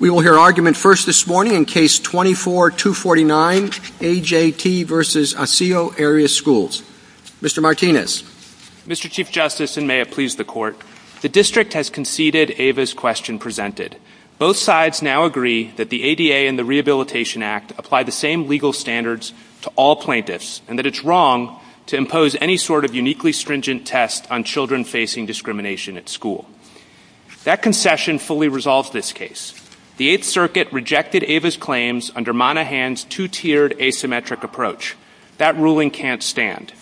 We will hear argument first this morning in Case 24-249, A. J. T. v. Osseo Area Schools. Mr. Martinez. Mr. Chief Justice, and may it please the Court, the District has conceded Ava's question presented. Both sides now agree that the ADA and the Rehabilitation Act apply the same legal standards to all plaintiffs, and that it's wrong to impose any sort of uniquely stringent test on children facing discrimination at school. That concession fully resolves this case. The Eighth Circuit rejected Ava's claims under Monaghan's two-tiered asymmetric approach. That ruling can't stand.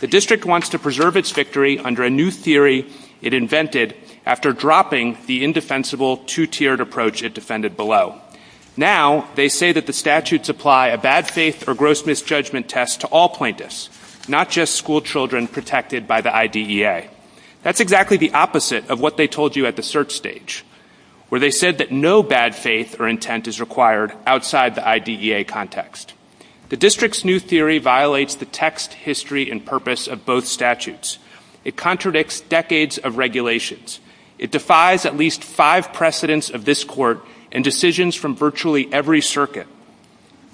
The District wants to preserve its victory under a new theory it invented after dropping the indefensible two-tiered approach it defended below. Now they say that the statutes apply a bad faith or gross misjudgment test to all plaintiffs, not just school children protected by the IDEA. That's exactly the opposite of what they told you at the search stage, where they said that no bad faith or intent is required outside the IDEA context. The District's new theory violates the text, history, and purpose of both statutes. It contradicts decades of regulations. It defies at least five precedents of this Court and decisions from virtually every circuit.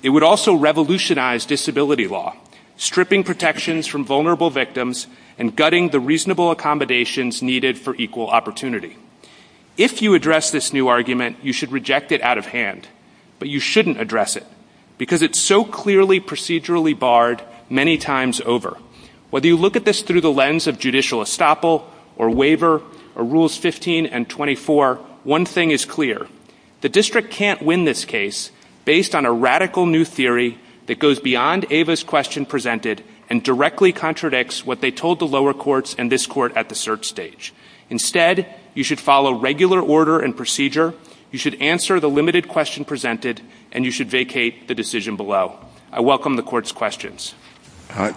It would also revolutionize disability law, stripping protections from vulnerable victims and gutting the reasonable accommodations needed for equal opportunity. If you address this new argument, you should reject it out of hand. But you shouldn't address it, because it's so clearly procedurally barred many times over. Whether you look at this through the lens of judicial estoppel or waiver or Rules 15 and 24, one thing is clear. The District can't win this case based on a radical new theory that goes beyond Ava's question presented and directly contradicts what they told the lower courts and this Court at the search stage. Instead, you should follow regular order and procedure, you should answer the limited question presented, and you should vacate the decision below. I welcome the Court's questions.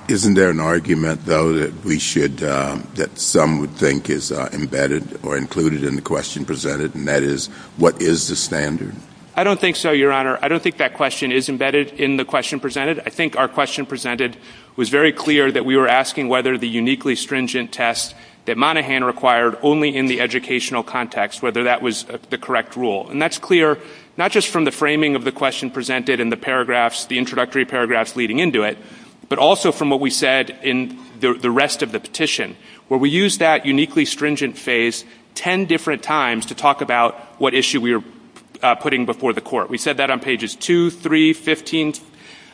Isn't there an argument, though, that we should, that some would think is embedded or included in the question presented, and that is, what is the standard? I don't think so, Your Honor. I don't think that question is embedded in the question presented. I think our question presented was very clear that we were asking whether the uniquely stringent test that Monaghan required only in the educational context, whether that was the correct rule. And that's clear not just from the framing of the question presented and the paragraphs, the introductory paragraphs leading into it, but also from what we said in the rest of the petition, where we used that uniquely stringent phase 10 different times to talk about what issue we were putting before the Court. We said that on pages 2, 3, 15,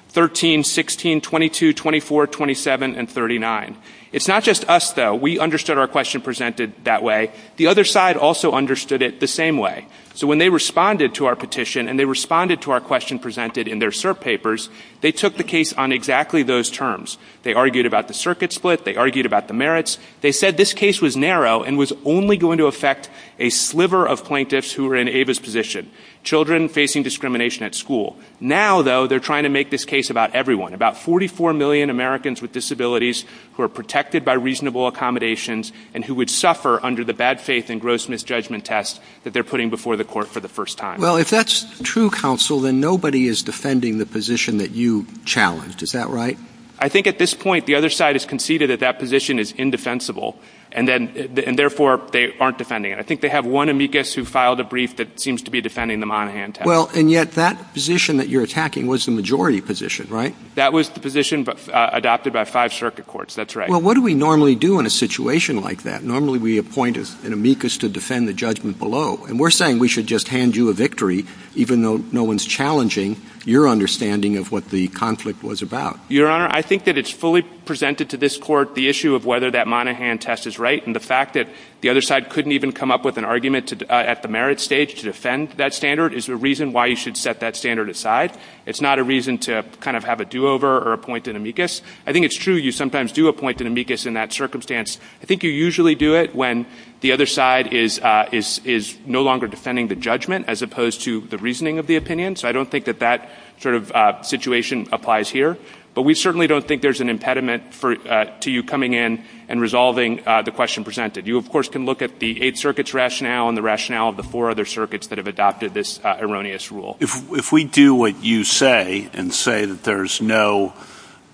13, 16, 22, 24, 27, and 39. It's not just us, though. We understood our question presented that way. The other side also understood it the same way. So when they responded to our petition and they responded to our question presented in their cert papers, they took the case on exactly those terms. They argued about the circuit split. They argued about the merits. They said this case was narrow and was only going to affect a sliver of plaintiffs who were in Ava's position, children facing discrimination at school. Now, though, they're trying to make this case about everyone, about 44 million Americans with disabilities who are protected by reasonable accommodations and who would suffer under the bad faith and gross misjudgment test that they're putting before the Court for the first time. Well, if that's true, counsel, then nobody is defending the position that you challenged. Is that right? I think at this point the other side has conceded that that position is indefensible, and therefore they aren't defending it. I think they have one amicus who filed a brief that seems to be defending the Monaghan test. Well, and yet that position that you're attacking was the majority position, right? That was the position adopted by five circuit courts. That's right. Well, what do we normally do in a situation like that? Normally we appoint an amicus to defend the judgment below. And we're saying we should just hand you a victory even though no one's challenging your understanding of what the conflict was about. Your Honor, I think that it's fully presented to this Court the issue of whether that Monaghan test is right, and the fact that the other side couldn't even come up with an argument at the merit stage to defend that standard is the reason why you should set that standard aside. It's not a reason to kind of have a do-over or appoint an amicus. I think it's true you sometimes do appoint an amicus in that circumstance. I think you usually do it when the other side is no longer defending the judgment as opposed to the reasoning of the opinion. So I don't think that that sort of situation applies here. But we certainly don't think there's an impediment to you coming in and resolving the question presented. You, of course, can look at the Eighth Circuit's rationale and the rationale of the four other circuits that have adopted this erroneous rule. If we do what you say and say that there's no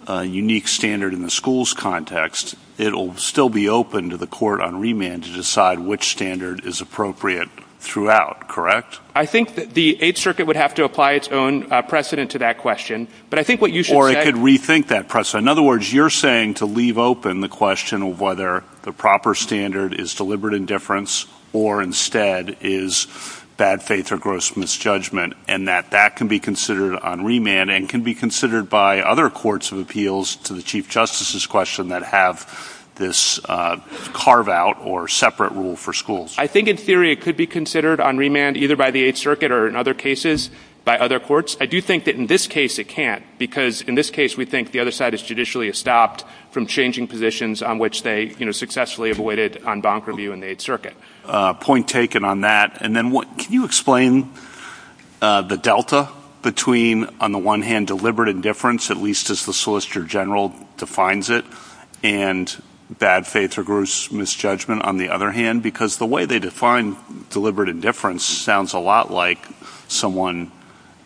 unique standard in the school's context, it'll still be open to the court on remand to decide which standard is appropriate throughout, correct? I think that the Eighth Circuit would have to apply its own precedent to that question. Or it could rethink that precedent. In other words, you're saying to leave open the question of whether the proper standard is deliberate indifference or instead is bad faith or gross misjudgment and that that can be considered on remand and can be considered by other courts of appeals to the Chief Justice's question that have this carve-out or separate rule for schools. I think in theory it could be considered on remand either by the Eighth Circuit or in other cases by other courts. I do think that in this case it can't because in this case we think the other side is judicially stopped from changing positions on which they successfully avoided on bonk review in the Eighth Circuit. Point taken on that. And then can you explain the delta between, on the one hand, deliberate indifference, at least as the Solicitor General defines it, and bad faith or gross misjudgment, on the other hand? Because the way they define deliberate indifference sounds a lot like someone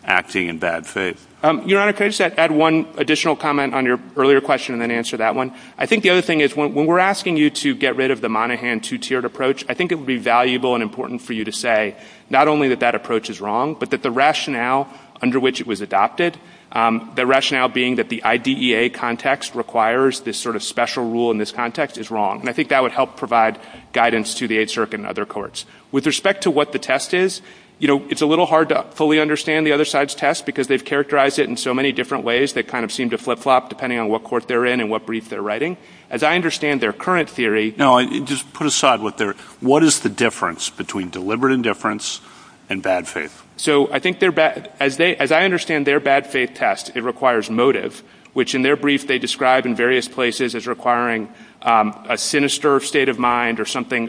acting in bad faith. Your Honor, can I just add one additional comment on your earlier question and then answer that one? I think the other thing is when we're asking you to get rid of the Monaghan two-tiered approach, I think it would be valuable and important for you to say not only that that approach is wrong but that the rationale under which it was adopted, the rationale being that the IDEA context requires this sort of special rule in this context is wrong. And I think that would help provide guidance to the Eighth Circuit and other courts. With respect to what the test is, you know, it's a little hard to fully understand the other side's test because they've characterized it in so many different ways that kind of seem to flip-flop depending on what court they're in and what brief they're writing. As I understand their current theory— No, just put aside what they're—what is the difference between deliberate indifference and bad faith? So I think their—as I understand their bad faith test, it requires motive, which in their brief they describe in various places as requiring a sinister state of mind or something,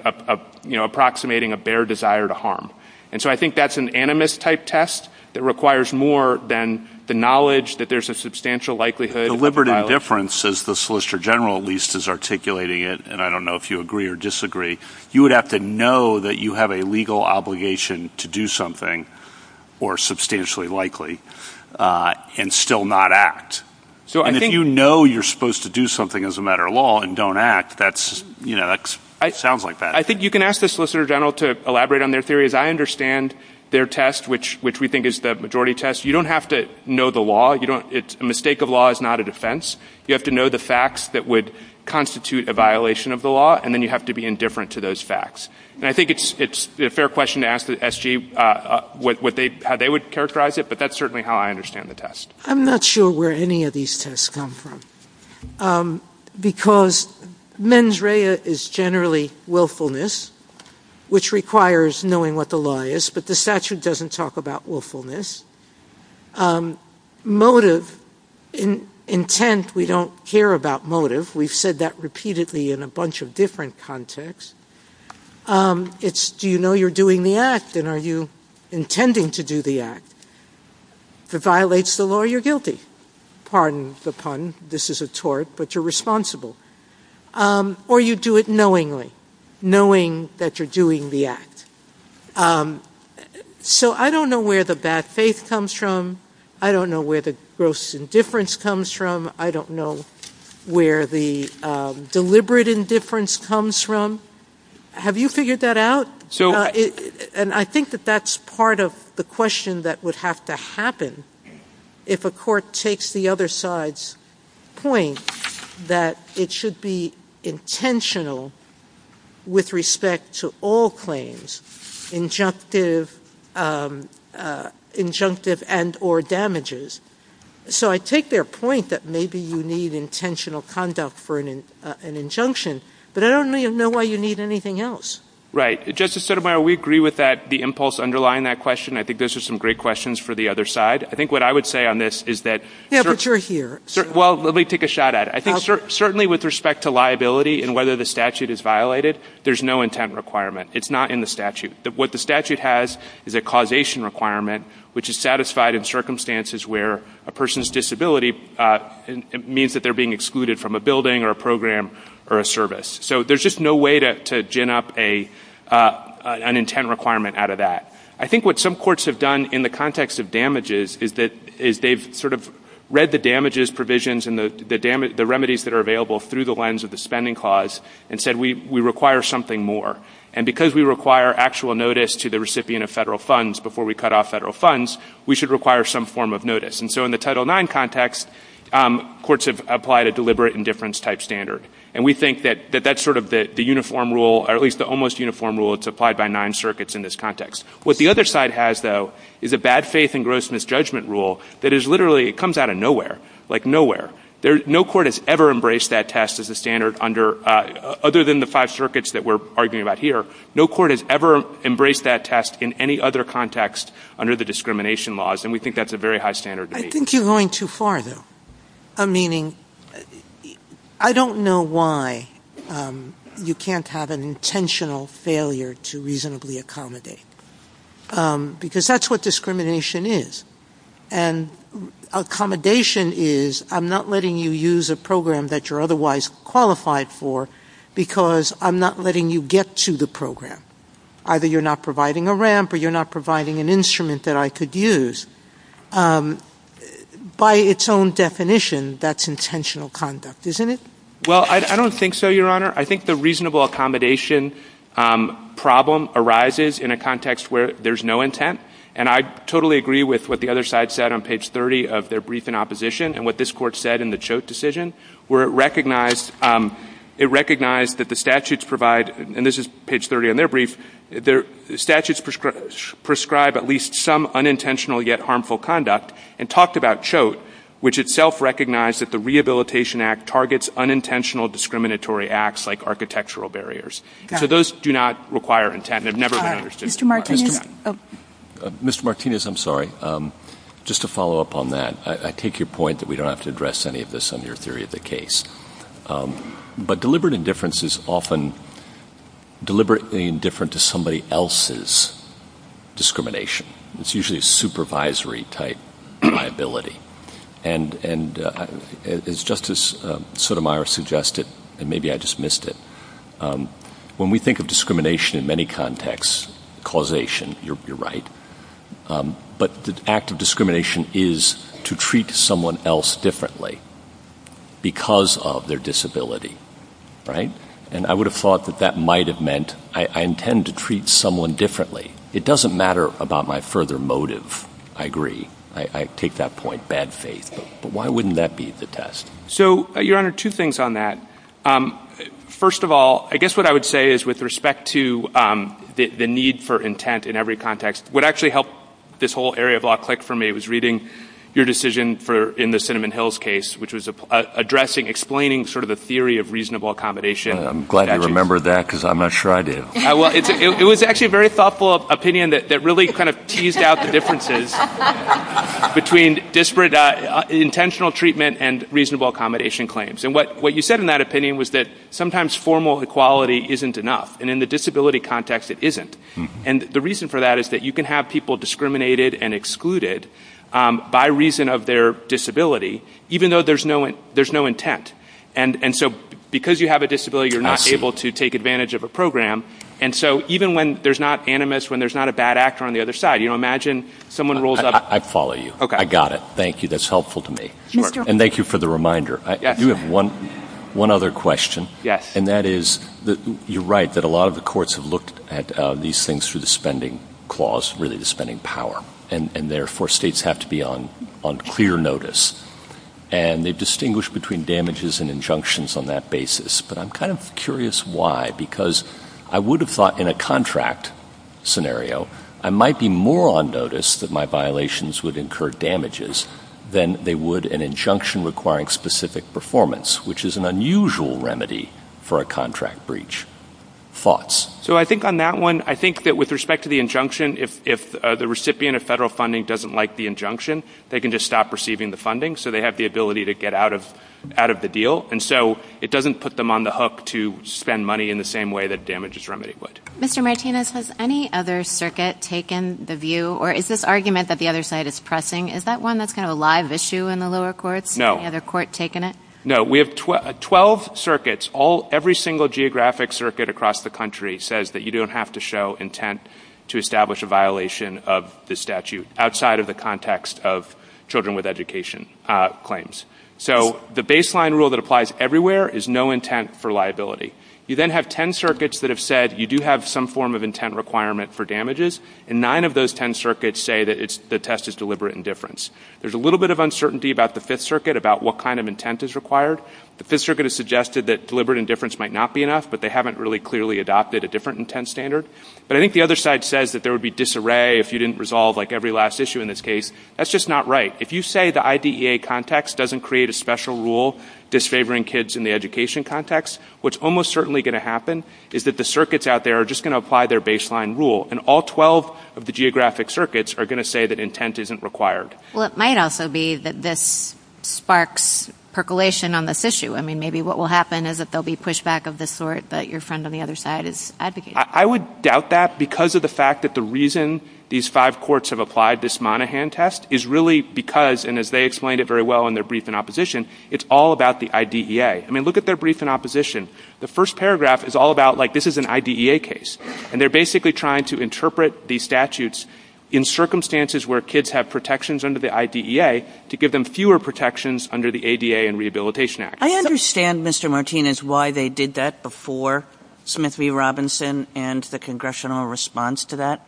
you know, approximating a bare desire to harm. And so I think that's an animist-type test that requires more than the knowledge that there's a substantial likelihood— Deliberate indifference, as the Solicitor General at least is articulating it, and I don't know if you agree or disagree, you would have to know that you have a legal obligation to do something or substantially likely and still not act. So I think— And if you know you're supposed to do something as a matter of law and don't act, that's, you know, that sounds like bad faith. I think you can ask the Solicitor General to elaborate on their theory. As I understand their test, which we think is the majority test, you don't have to know the law. You don't—a mistake of law is not a defense. You have to know the facts that would constitute a violation of the law, and then you have to be indifferent to those facts. And I think it's a fair question to ask the SG what they—how they would characterize it, but that's certainly how I understand the test. I'm not sure where any of these tests come from, because mens rea is generally willfulness, which requires knowing what the law is, but the statute doesn't talk about willfulness. Motive, intent, we don't care about motive. We've said that repeatedly in a bunch of different contexts. It's do you know you're doing the act, and are you intending to do the act? If it violates the law, you're guilty. Pardon the pun. This is a tort, but you're responsible. Or you do it knowingly, knowing that you're doing the act. So I don't know where the bad faith comes from. I don't know where the gross indifference comes from. I don't know where the deliberate indifference comes from. Have you figured that out? And I think that that's part of the question that would have to happen if a court takes the other side's point that it should be intentional with respect to all claims, injunctive and or damages. So I take their point that maybe you need intentional conduct for an injunction, but I don't really know why you need anything else. Justice Sotomayor, we agree with that, the impulse underlying that question. I think those are some great questions for the other side. I think what I would say on this is that- Yeah, but you're here. Well, let me take a shot at it. I think certainly with respect to liability and whether the statute is violated, there's no intent requirement. It's not in the statute. What the statute has is a causation requirement, which is satisfied in circumstances where a person's disability means that they're being excluded from a building or a program or a service. So there's just no way to gin up an intent requirement out of that. I think what some courts have done in the context of damages is they've sort of read the damages provisions and the remedies that are available through the lens of the spending clause and said we require something more. And because we require actual notice to the recipient of federal funds before we cut off federal funds, we should require some form of notice. And so in the Title IX context, courts have applied a deliberate indifference-type standard. And we think that that's sort of the uniform rule, or at least the almost uniform rule that's applied by nine circuits in this context. What the other side has, though, is a bad faith and gross misjudgment rule that is literally-it comes out of nowhere, like nowhere. No court has ever embraced that test as a standard other than the five circuits that we're arguing about here. No court has ever embraced that test in any other context under the discrimination laws. And we think that's a very high standard. I think you're going too far, though. Meaning I don't know why you can't have an intentional failure to reasonably accommodate. Because that's what discrimination is. And accommodation is I'm not letting you use a program that you're otherwise qualified for because I'm not letting you get to the program. Either you're not providing a ramp or you're not providing an instrument that I could use. By its own definition, that's intentional conduct, isn't it? Well, I don't think so, Your Honor. I think the reasonable accommodation problem arises in a context where there's no intent. And I totally agree with what the other side said on page 30 of their brief in opposition and what this court said in the Choate decision, where it recognized that the statutes provide and this is page 30 on their brief, statutes prescribe at least some unintentional yet harmful conduct and talked about Choate, which itself recognized that the Rehabilitation Act targets unintentional discriminatory acts like architectural barriers. So those do not require intent. They've never been understood. Mr. Martinez? Mr. Martinez, I'm sorry. Just to follow up on that, I take your point that we don't have to address any of this on your theory of the case. But deliberate indifference is often deliberately indifferent to somebody else's discrimination. It's usually a supervisory type liability. And as Justice Sotomayor suggested, and maybe I dismissed it, when we think of discrimination in many contexts, causation, you're right, but the act of discrimination is to treat someone else differently because of their disability, right? And I would have thought that that might have meant I intend to treat someone differently. It doesn't matter about my further motive. I agree. I take that point, bad faith. But why wouldn't that be the test? So, Your Honor, two things on that. First of all, I guess what I would say is with respect to the need for intent in every context, what actually helped this whole area block click for me was reading your decision in the Cinnamon Hills case, which was addressing, explaining sort of the theory of reasonable accommodation. I'm glad you remembered that because I'm not sure I do. It was actually a very thoughtful opinion that really kind of teased out the differences between intentional treatment and reasonable accommodation claims. And what you said in that opinion was that sometimes formal equality isn't enough. And in the disability context, it isn't. And the reason for that is that you can have people discriminated and excluded by reason of their disability, even though there's no intent. And so because you have a disability, you're not able to take advantage of a program. And so even when there's not animus, when there's not a bad actor on the other side, you know, imagine someone rolls up. I follow you. I got it. Thank you. That's helpful to me. And thank you for the reminder. I do have one other question. Yes. And that is, you're right, that a lot of the courts have looked at these things through the spending clause, really the spending power, and therefore states have to be on clear notice. And they distinguish between damages and injunctions on that basis. But I'm kind of curious why, because I would have thought in a contract scenario, I might be more on notice that my violations would incur damages than they would an injunction requiring specific performance, which is an unusual remedy for a contract breach. Thoughts? So I think on that one, I think that with respect to the injunction, if the recipient of federal funding doesn't like the injunction, they can just stop receiving the funding so they have the ability to get out of the deal. And so it doesn't put them on the hook to spend money in the same way that damages remedy would. Mr. Martinez, has any other circuit taken the view, or is this argument that the other side is pressing, is that one that's kind of a live issue in the lower courts? No. Any other court taken it? No. We have 12 circuits. Every single geographic circuit across the country says that you don't have to show intent to establish a violation of this statute outside of the context of children with education claims. So the baseline rule that applies everywhere is no intent for liability. You then have 10 circuits that have said you do have some form of intent requirement for damages, and nine of those 10 circuits say that the test is deliberate indifference. There's a little bit of uncertainty about the Fifth Circuit about what kind of intent is required. The Fifth Circuit has suggested that deliberate indifference might not be enough, but they haven't really clearly adopted a different intent standard. But I think the other side says that there would be disarray if you didn't resolve, like, every last issue in this case. That's just not right. If you say the IDEA context doesn't create a special rule disfavoring kids in the education context, what's almost certainly going to happen is that the circuits out there are just going to apply their baseline rule, and all 12 of the geographic circuits are going to say that intent isn't required. Well, it might also be that this sparks percolation on this issue. I mean, maybe what will happen is that there will be pushback of this sort, but your friend on the other side is advocating. I would doubt that because of the fact that the reason these five courts have applied this Monaghan test is really because, and as they explained it very well in their brief in opposition, it's all about the IDEA. I mean, look at their brief in opposition. The first paragraph is all about, like, this is an IDEA case, and they're basically trying to interpret these statutes in circumstances where kids have protections under the IDEA to give them fewer protections under the ADA and Rehabilitation Act. I understand, Mr. Martinez, why they did that before Smith v. Robinson and the congressional response to that.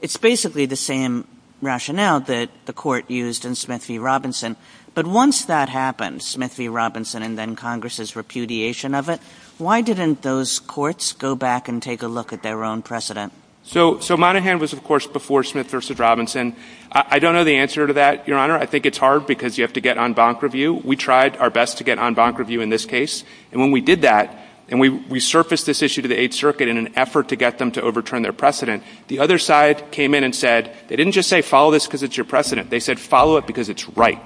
It's basically the same rationale that the court used in Smith v. Robinson, but once that happened, Smith v. Robinson and then Congress's repudiation of it, why didn't those courts go back and take a look at their own precedent? So Monaghan was, of course, before Smith v. Robinson. I don't know the answer to that, Your Honor. I think it's hard because you have to get en banc review. We tried our best to get en banc review in this case, and when we did that, and we surfaced this issue to the Eighth Circuit in an effort to get them to overturn their precedent, the other side came in and said they didn't just say follow this because it's your precedent. They said follow it because it's right.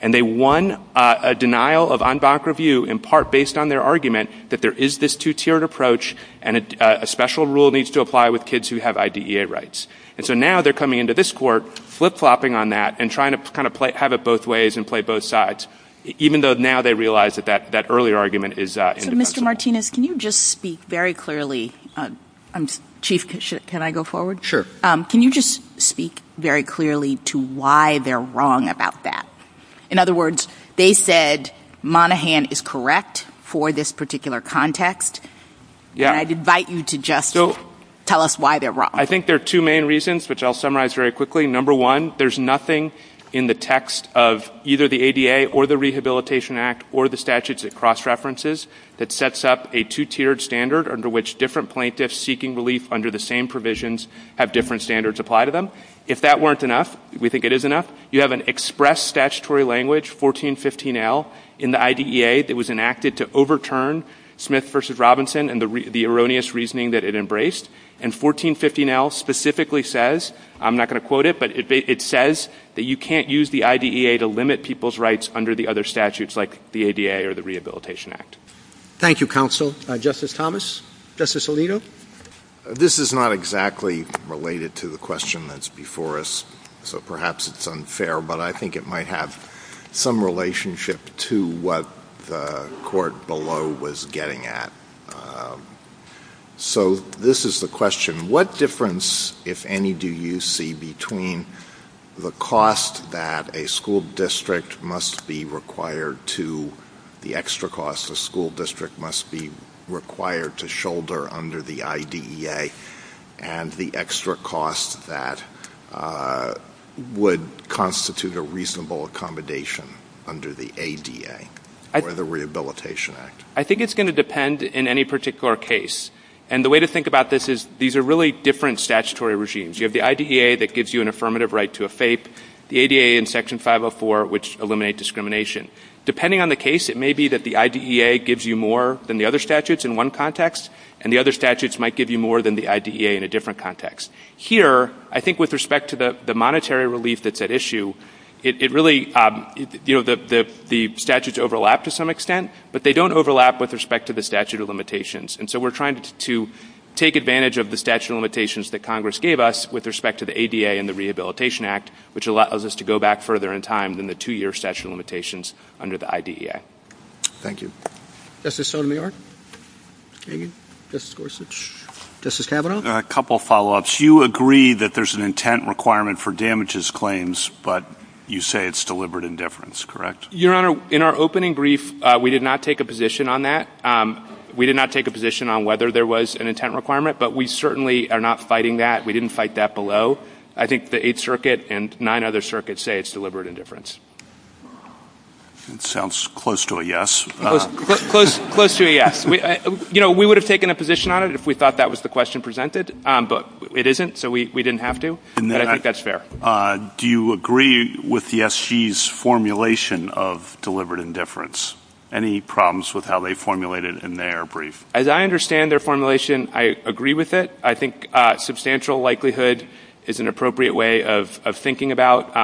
And they won a denial of en banc review in part based on their argument that there is this two-tiered approach and a special rule needs to apply with kids who have IDEA rights. And so now they're coming into this court flip-flopping on that and trying to kind of have it both ways and play both sides, even though now they realize that that earlier argument is indefensible. Mr. Martinez, can you just speak very clearly? Chief, can I go forward? Sure. Chief, can you just speak very clearly to why they're wrong about that? In other words, they said Monahan is correct for this particular context. And I'd invite you to just tell us why they're wrong. I think there are two main reasons, which I'll summarize very quickly. Number one, there's nothing in the text of either the ADA or the Rehabilitation Act or the statutes at cross-references that sets up a two-tiered standard under which different plaintiffs seeking relief under the same provisions have different standards apply to them. If that weren't enough, we think it is enough, you have an express statutory language, 1415L, in the IDEA that was enacted to overturn Smith v. Robinson and the erroneous reasoning that it embraced. And 1415L specifically says, I'm not going to quote it, but it says that you can't use the IDEA to limit people's rights under the other statutes like the ADA or the Rehabilitation Act. Thank you, counsel. Justice Thomas? Justice Alito? This is not exactly related to the question that's before us, so perhaps it's unfair, but I think it might have some relationship to what the court below was getting at. So this is the question. What difference, if any, do you see between the cost that a school district must be required to the extra cost a school district must be required to shoulder under the IDEA and the extra cost that would constitute a reasonable accommodation under the ADA or the Rehabilitation Act? I think it's going to depend in any particular case. And the way to think about this is these are really different statutory regimes. You have the IDEA that gives you an affirmative right to a FAPE, the ADA and Section 504, which eliminate discrimination. Depending on the case, it may be that the IDEA gives you more than the other statutes in one context and the other statutes might give you more than the IDEA in a different context. Here, I think with respect to the monetary relief that's at issue, the statutes overlap to some extent, but they don't overlap with respect to the statute of limitations. And so we're trying to take advantage of the statute of limitations that Congress gave us with respect to the ADA and the Rehabilitation Act, which allows us to go back further in time than the two-year statute of limitations under the IDEA. Thank you. Justice Sotomayor? Thank you. Justice Gorsuch? Justice Kavanaugh? A couple of follow-ups. You agree that there's an intent requirement for damages claims, but you say it's deliberate indifference, correct? Your Honor, in our opening brief, we did not take a position on that. We did not take a position on whether there was an intent requirement, but we certainly are not fighting that. We didn't fight that below. I think the Eighth Circuit and nine other circuits say it's deliberate indifference. That sounds close to a yes. Close to a yes. You know, we would have taken a position on it if we thought that was the question presented, but it isn't, so we didn't have to. But I think that's fair. Do you agree with the SG's formulation of deliberate indifference? Any problems with how they formulated it in their brief? As I understand their formulation, I agree with it. I think substantial likelihood is an appropriate way of thinking about,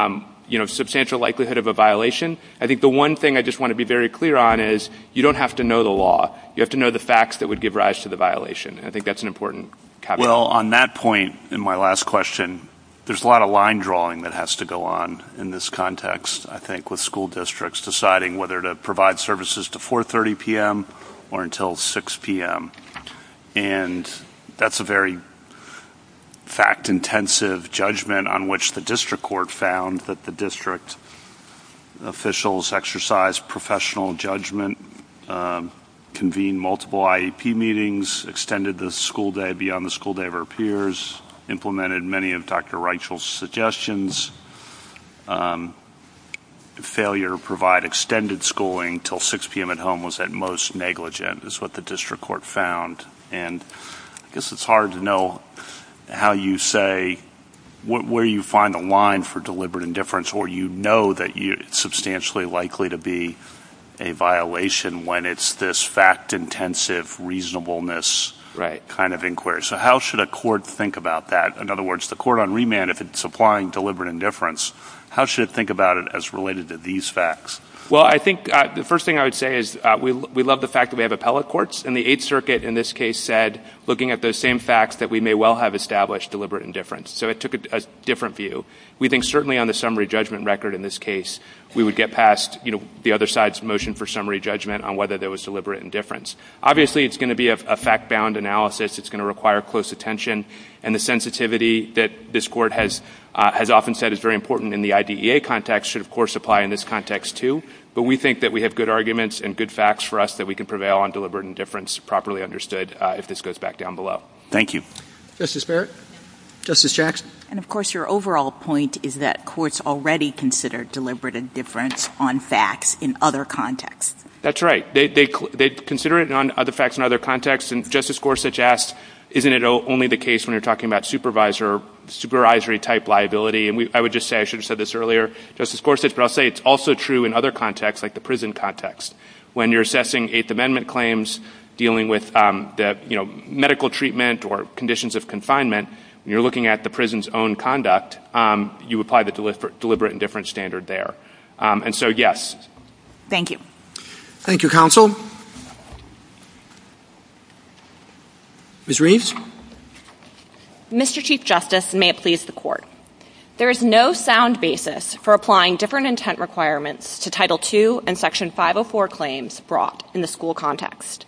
you know, substantial likelihood of a violation. I think the one thing I just want to be very clear on is you don't have to know the law. You have to know the facts that would give rise to the violation, and I think that's an important caveat. Well, on that point, in my last question, there's a lot of line drawing that has to go on in this context, I think, with school districts deciding whether to provide services to 430 p.m. or until 6 p.m., and that's a very fact-intensive judgment on which the district court found that the district officials exercised professional judgment, convened multiple IDP meetings, extended the school day beyond the school day of their peers, implemented many of Dr. Reichel's suggestions. Failure to provide extended schooling until 6 p.m. at home was at most negligent, is what the district court found, and I guess it's hard to know how you say where you find a line for deliberate indifference or you know that it's substantially likely to be a violation when it's this fact-intensive reasonableness kind of inquiry. So how should a court think about that? In other words, the court on remand, if it's applying deliberate indifference, how should it think about it as related to these facts? Well, I think the first thing I would say is we love the fact that we have appellate courts, and the Eighth Circuit in this case said, looking at those same facts, that we may well have established deliberate indifference. So it took a different view. We think certainly on the summary judgment record in this case, we would get past the other side's motion for summary judgment on whether there was deliberate indifference. Obviously, it's going to be a fact-bound analysis. It's going to require close attention, and the sensitivity that this court has often said is very important in the IDEA context and should, of course, apply in this context, too. But we think that we have good arguments and good facts for us that we can prevail on deliberate indifference properly understood if this goes back down below. Thank you. Justice Barrett? Justice Jackson? And, of course, your overall point is that courts already consider deliberate indifference on facts in other contexts. That's right. They consider it on other facts in other contexts, and Justice Gorsuch asked, isn't it only the case when you're talking about supervisory-type liability? And I would just say, I should have said this earlier, Justice Gorsuch, but I'll say it's also true in other contexts, like the prison context. When you're assessing Eighth Amendment claims, dealing with medical treatment or conditions of confinement, and you're looking at the prison's own conduct, you apply the deliberate indifference standard there. And so, yes. Thank you. Thank you, counsel. Ms. Reeves? Mr. Chief Justice, and may it please the Court, there is no sound basis for applying different intent requirements to Title II and Section 504 claims brought in the school context.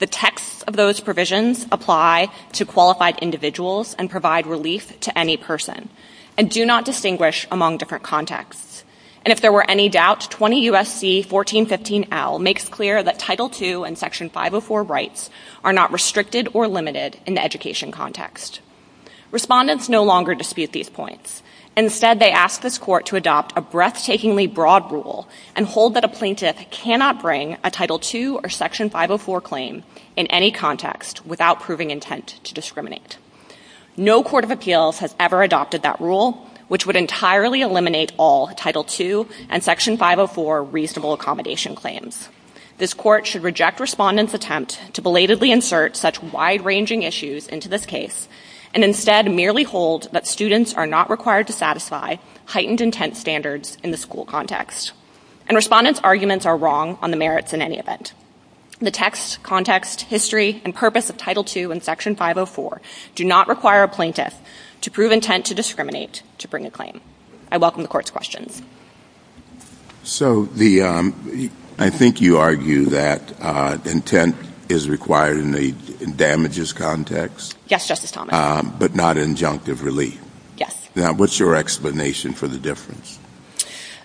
The text of those provisions apply to qualified individuals and provide relief to any person and do not distinguish among different contexts. And if there were any doubts, 20 U.S.C. 1415L makes clear that Title II and Section 504 rights are not restricted or limited in the education context. Respondents no longer dispute these points. Instead, they ask this Court to adopt a breathtakingly broad rule and hold that a plaintiff cannot bring a Title II or Section 504 claim in any context without proving intent to discriminate. No court of appeals has ever adopted that rule, which would entirely eliminate all Title II and Section 504 reasonable accommodation claims. This Court should reject respondents' attempt to belatedly insert such wide-ranging issues into this case and instead merely hold that students are not required to satisfy heightened intent standards in the school context. And respondents' arguments are wrong on the merits in any event. The text, context, history, and purpose of Title II and Section 504 do not require a plaintiff to prove intent to discriminate to bring a claim. I welcome the Court's questions. So, I think you argue that intent is required in the damages context? Yes, Justice Thomas. But not injunctive relief? Yes. Now, what's your explanation for the difference?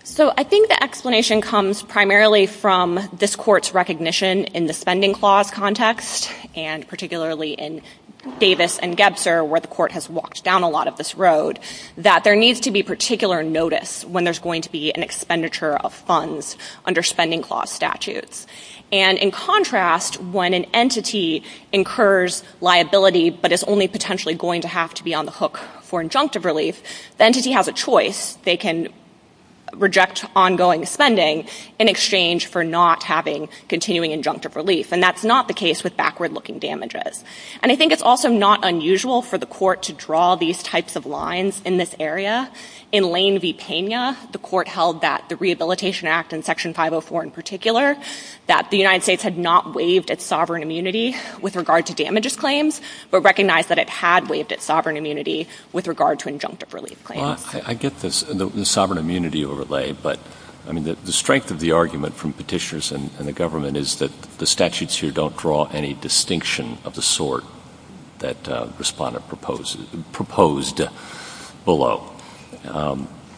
So, I think the explanation comes primarily from this Court's recognition in the spending clause context, and particularly in Davis and Gebster, where the Court has walked down a lot of this road, that there needs to be particular notice when there's going to be an expenditure of funds under spending clause statutes. And, in contrast, when an entity incurs liability but is only potentially going to have to be on the hook for injunctive relief, the entity has a choice. They can reject ongoing spending in exchange for not having continuing injunctive relief. And that's not the case with backward-looking damages. And I think it's also not unusual for the Court to draw these types of lines in this area. In Lane v. Pena, the Court held that the Rehabilitation Act, in Section 504 in particular, that the United States had not waived its sovereign immunity with regard to damages claims, but recognized that it had waived its sovereign immunity with regard to injunctive relief claims. Well, I get the sovereign immunity overlay, but the strength of the argument from petitioners and the government is that the statutes here don't draw any distinction of the sort that the respondent proposed below.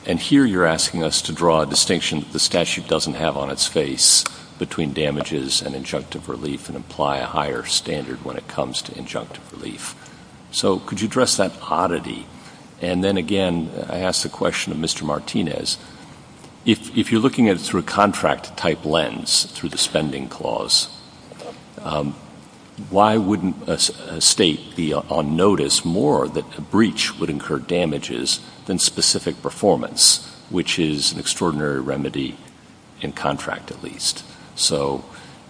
And here you're asking us to draw a distinction that the statute doesn't have on its face between damages and injunctive relief and apply a higher standard when it comes to injunctive relief. So could you address that oddity? And then, again, I ask the question of Mr. Martinez. If you're looking at it through a contract-type lens, through the spending clause, why wouldn't a state be on notice more that a breach would incur damages than specific performance, which is an extraordinary remedy in contract, at least? So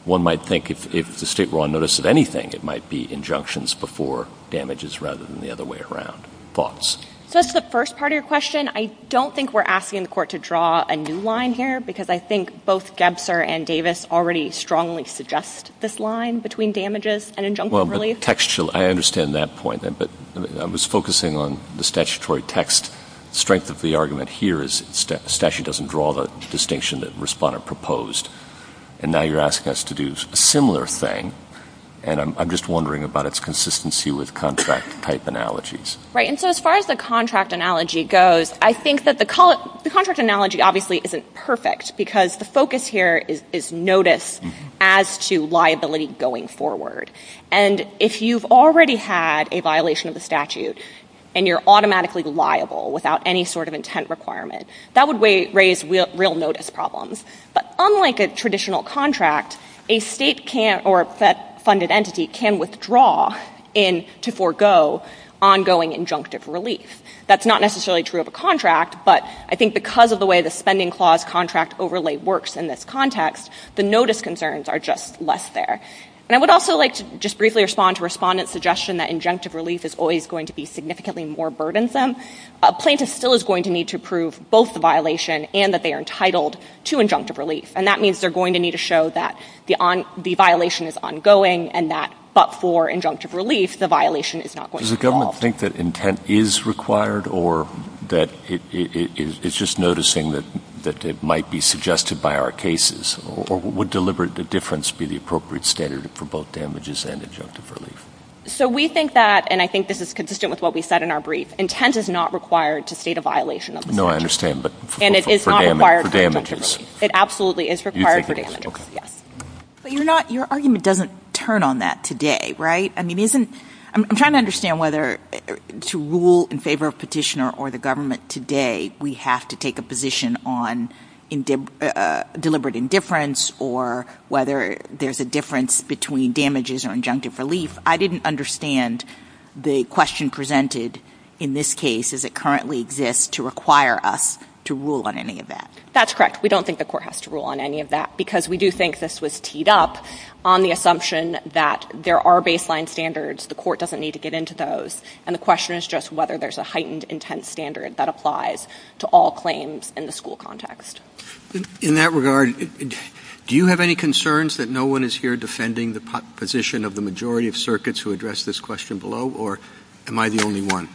one might think if the state were on notice of anything, it might be injunctions before damages rather than the other way around. Thoughts? That's the first part of your question. I don't think we're asking the Court to draw a new line here because I think both Gebser and Davis already strongly suggest this line between damages and injunctive relief. Well, textually, I understand that point. But I was focusing on the statutory text. The strength of the argument here is the statute doesn't draw the distinction that the respondent proposed. And now you're asking us to do a similar thing, and I'm just wondering about its consistency with contract-type analogies. Right, and so as far as the contract analogy goes, I think that the contract analogy obviously isn't perfect because the focus here is notice as to liability going forward. And if you've already had a violation of the statute and you're automatically liable without any sort of intent requirement, that would raise real notice problems. But unlike a traditional contract, a state can't, or a fed-funded entity can withdraw to forego ongoing injunctive relief. That's not necessarily true of a contract, but I think because of the way the spending clause contract overlay works in this context, the notice concerns are just less there. And I would also like to just briefly respond to respondent's suggestion that injunctive relief is always going to be significantly more burdensome. Plaintiffs still is going to need to prove both the violation and that they are entitled to injunctive relief. And that means they're going to need to show that the violation is ongoing and that but for injunctive relief, the violation is not going to fall. Does the government think that intent is required or that it's just noticing that it might be suggested by our cases? Or would deliberate difference be the appropriate standard for both damages and injunctive relief? So we think that, and I think this is consistent with what we said in our brief, intent is not required to state a violation of the statute. No, I understand, but for damages. And it is not required for damages. It absolutely is required for damages. But your argument doesn't turn on that today, right? I'm trying to understand whether to rule in favor of petitioner or the government today, we have to take a position on deliberate indifference or whether there's a difference between damages or injunctive relief. I didn't understand the question presented in this case as it currently exists to require us to rule on any of that. That's correct. We don't think the court has to rule on any of that because we do think this was teed up on the assumption that there are baseline standards. The court doesn't need to get into those. And the question is just whether there's a heightened intent standard that applies to all claims in the school context. In that regard, do you have any concerns that no one is here defending the position of the majority of circuits who addressed this question below, or am I the only one?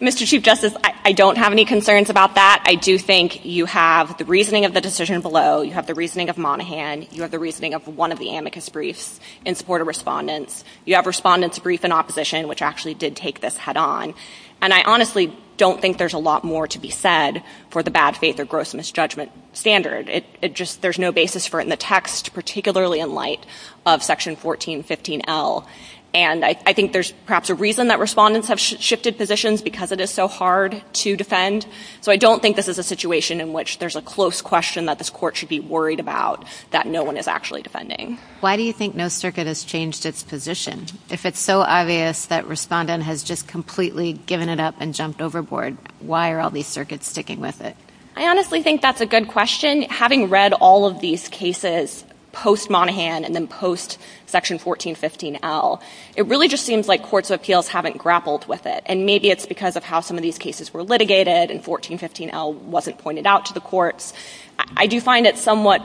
Mr. Chief Justice, I don't have any concerns about that. I do think you have the reasoning of the decision below, you have the reasoning of Monaghan, you have the reasoning of one of the amicus briefs in support of respondents. You have respondents' brief in opposition, which actually did take this head-on. And I honestly don't think there's a lot more to be said for the bad faith or gross misjudgment standard. There's no basis for it in the text, particularly in light of Section 1415L. And I think there's perhaps a reason that respondents have shifted positions because it is so hard to defend. So I don't think this is a situation in which there's a close question that this court should be worried about that no one is actually defending. Why do you think no circuit has changed its position? If it's so obvious that a respondent has just completely given it up and jumped overboard, why are all these circuits sticking with it? I honestly think that's a good question. Having read all of these cases post-Monaghan and then post-Section 1415L, it really just seems like courts of appeals haven't grappled with it. And maybe it's because of how some of these cases were litigated and 1415L wasn't pointed out to the courts. I do find it somewhat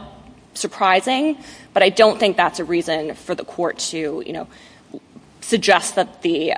surprising, but I don't think that's a reason for the court to suggest that the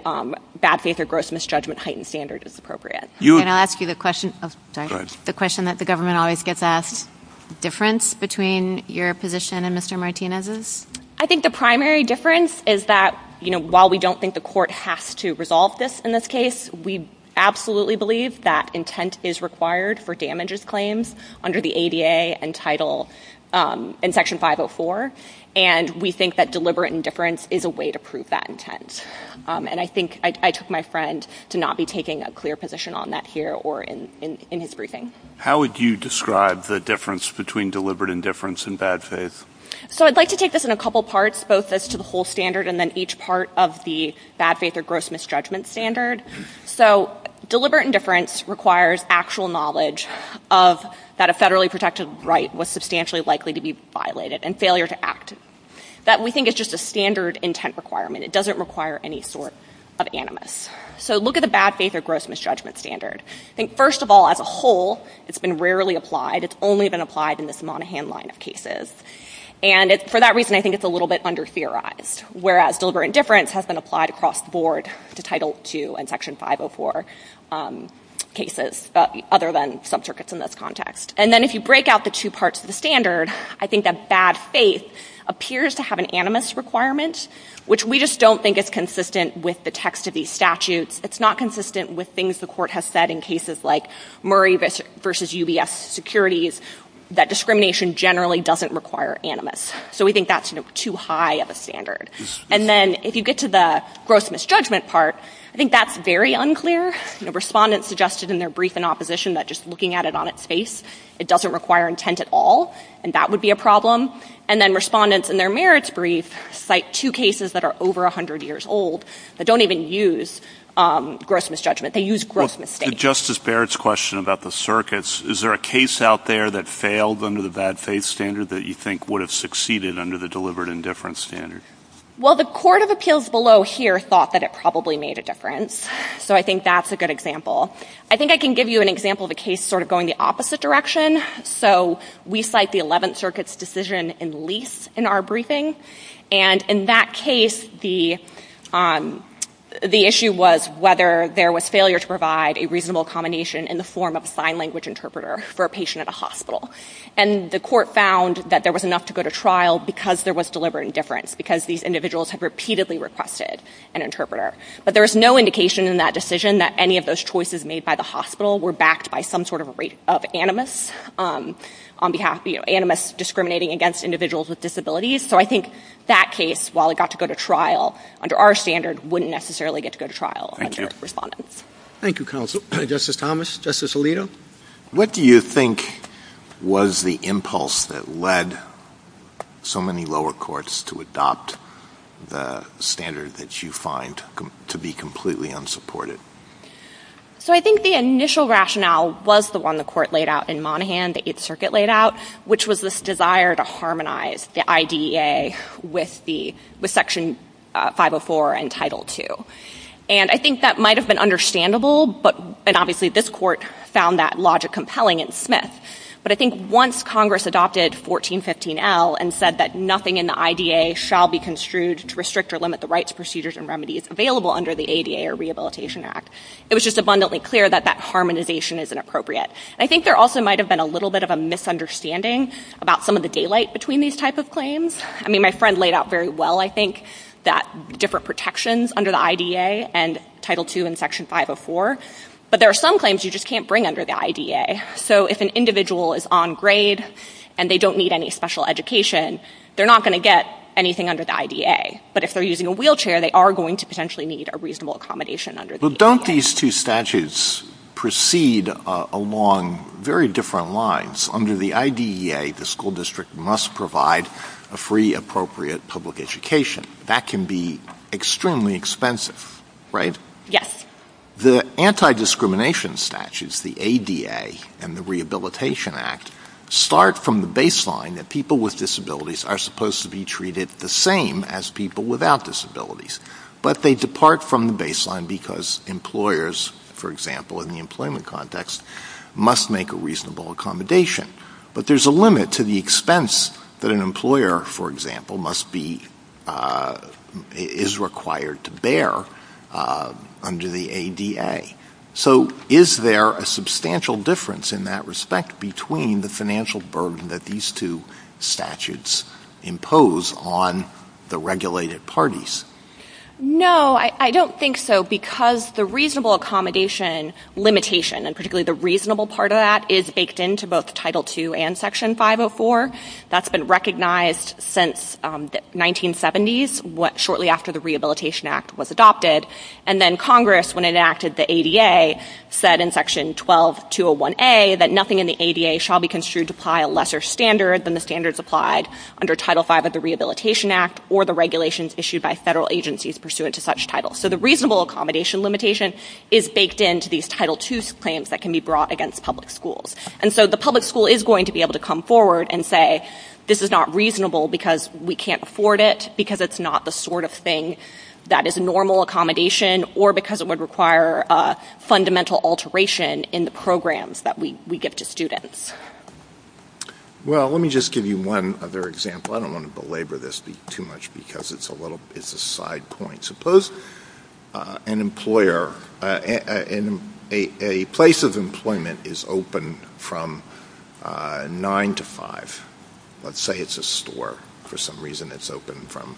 bad faith or gross misjudgment heightened standard is appropriate. Can I ask you the question that the government always gets asked, the difference between your position and Mr. Martinez's? I think the primary difference is that while we don't think the court has to resolve this in this case, we absolutely believe that intent is required for damages claims under the ADA and Title in Section 504, and we think that deliberate indifference is a way to prove that intent. And I think I took my friend to not be taking a clear position on that here or in his briefing. How would you describe the difference between deliberate indifference and bad faith? So I'd like to take this in a couple parts, both as to the whole standard and then each part of the bad faith or gross misjudgment standard. So deliberate indifference requires actual knowledge of that a federally protected right was substantially likely to be violated and failure to act. That we think is just a standard intent requirement. It doesn't require any sort of animus. So look at the bad faith or gross misjudgment standard. I think, first of all, as a whole, it's been rarely applied. It's only been applied in this Monaghan line of cases. And for that reason, I think it's a little bit under-theorized, whereas deliberate indifference has been applied across the board to Title II and Section 504 cases other than subcircuits in this context. And then if you break out the two parts of the standard, I think that bad faith appears to have an animus requirement, which we just don't think is consistent with the text of these statutes. It's not consistent with things the court has said in cases like Murray v. UBF securities that discrimination generally doesn't require animus. So we think that's too high of a standard. And then if you get to the gross misjudgment part, I think that's very unclear. Respondents suggested in their brief in opposition that just looking at it on its face, it doesn't require intent at all, and that would be a problem. And then respondents in their merits brief cite two cases that are over 100 years old that don't even use gross misjudgment. They use gross mistakes. The Justice Barrett's question about the circuits, is there a case out there that failed under the bad faith standard that you think would have succeeded under the deliberate indifference standard? Well, the court of appeals below here thought that it probably made a difference. So I think that's a good example. I think I can give you an example of a case sort of going the opposite direction. So we cite the 11th Circuit's decision in lease in our briefing. And in that case, the issue was whether there was failure to provide a reasonable combination in the form of a sign language interpreter for a patient at a hospital. And the court found that there was enough to go to trial because there was deliberate indifference, because these individuals have repeatedly requested an interpreter. But there was no indication in that decision that any of those choices made by the hospital were backed by some sort of animus on behalf of animus discriminating against individuals with disabilities. So I think that case, while it got to go to trial under our standard, wouldn't necessarily get to go to trial under the respondent. Thank you, counsel. Justice Thomas, Justice Alito. What do you think was the impulse that led so many lower courts to adopt the standard that you find to be completely unsupported? So I think the initial rationale was the one the court laid out in Monaghan, the 8th Circuit laid out, which was this desire to harmonize the IDEA with Section 504 and Title II. And I think that might have been understandable, but obviously this court found that logic compelling and smith. But I think once Congress adopted 1415L and said that nothing in the IDEA shall be construed to restrict or limit the rights, procedures, and remedies available under the ADA or Rehabilitation Act, it was just abundantly clear that that harmonization is inappropriate. I think there also might have been a little bit of a misunderstanding about some of the daylight between these type of claims. I mean, my friend laid out very well, I think, that different protections under the IDEA and Title II and Section 504, but there are some claims you just can't bring under the IDEA. So if an individual is on grade and they don't need any special education, they're not going to get anything under the IDEA. But if they're using a wheelchair, they are going to potentially need a reasonable accommodation under the IDEA. But don't these two statutes proceed along very different lines? Under the IDEA, the school district must provide a free, appropriate public education. That can be extremely expensive, right? Yes. The anti-discrimination statutes, the ADA, and the Rehabilitation Act start from the baseline that people with disabilities are supposed to be treated the same as people without disabilities. But they depart from the baseline because employers, for example, in the employment context, must make a reasonable accommodation. But there's a limit to the expense that an employer, for example, is required to bear under the ADA. So is there a substantial difference in that respect between the financial burden that these two statutes impose on the regulated parties? No, I don't think so because the reasonable accommodation limitation, and particularly the reasonable part of that, is baked into both Title II and Section 504. That's been recognized since the 1970s, shortly after the Rehabilitation Act was adopted. And then Congress, when it enacted the ADA, said in Section 1201A that nothing in the ADA shall be construed to apply a lesser standard than the standards applied under Title V of the Rehabilitation Act or the regulations issued by federal agencies pursuant to such titles. So the reasonable accommodation limitation is baked into these Title II claims that can be brought against public schools. And so the public school is going to be able to come forward and say, this is not reasonable because we can't afford it, because it's not the sort of thing that is normal accommodation, or because it would require fundamental alteration in the programs that we give to students. Well, let me just give you one other example. I don't want to belabor this too much because it's a side point. Suppose an employer... a place of employment is open from 9 to 5. Let's say it's a store. For some reason, it's open from...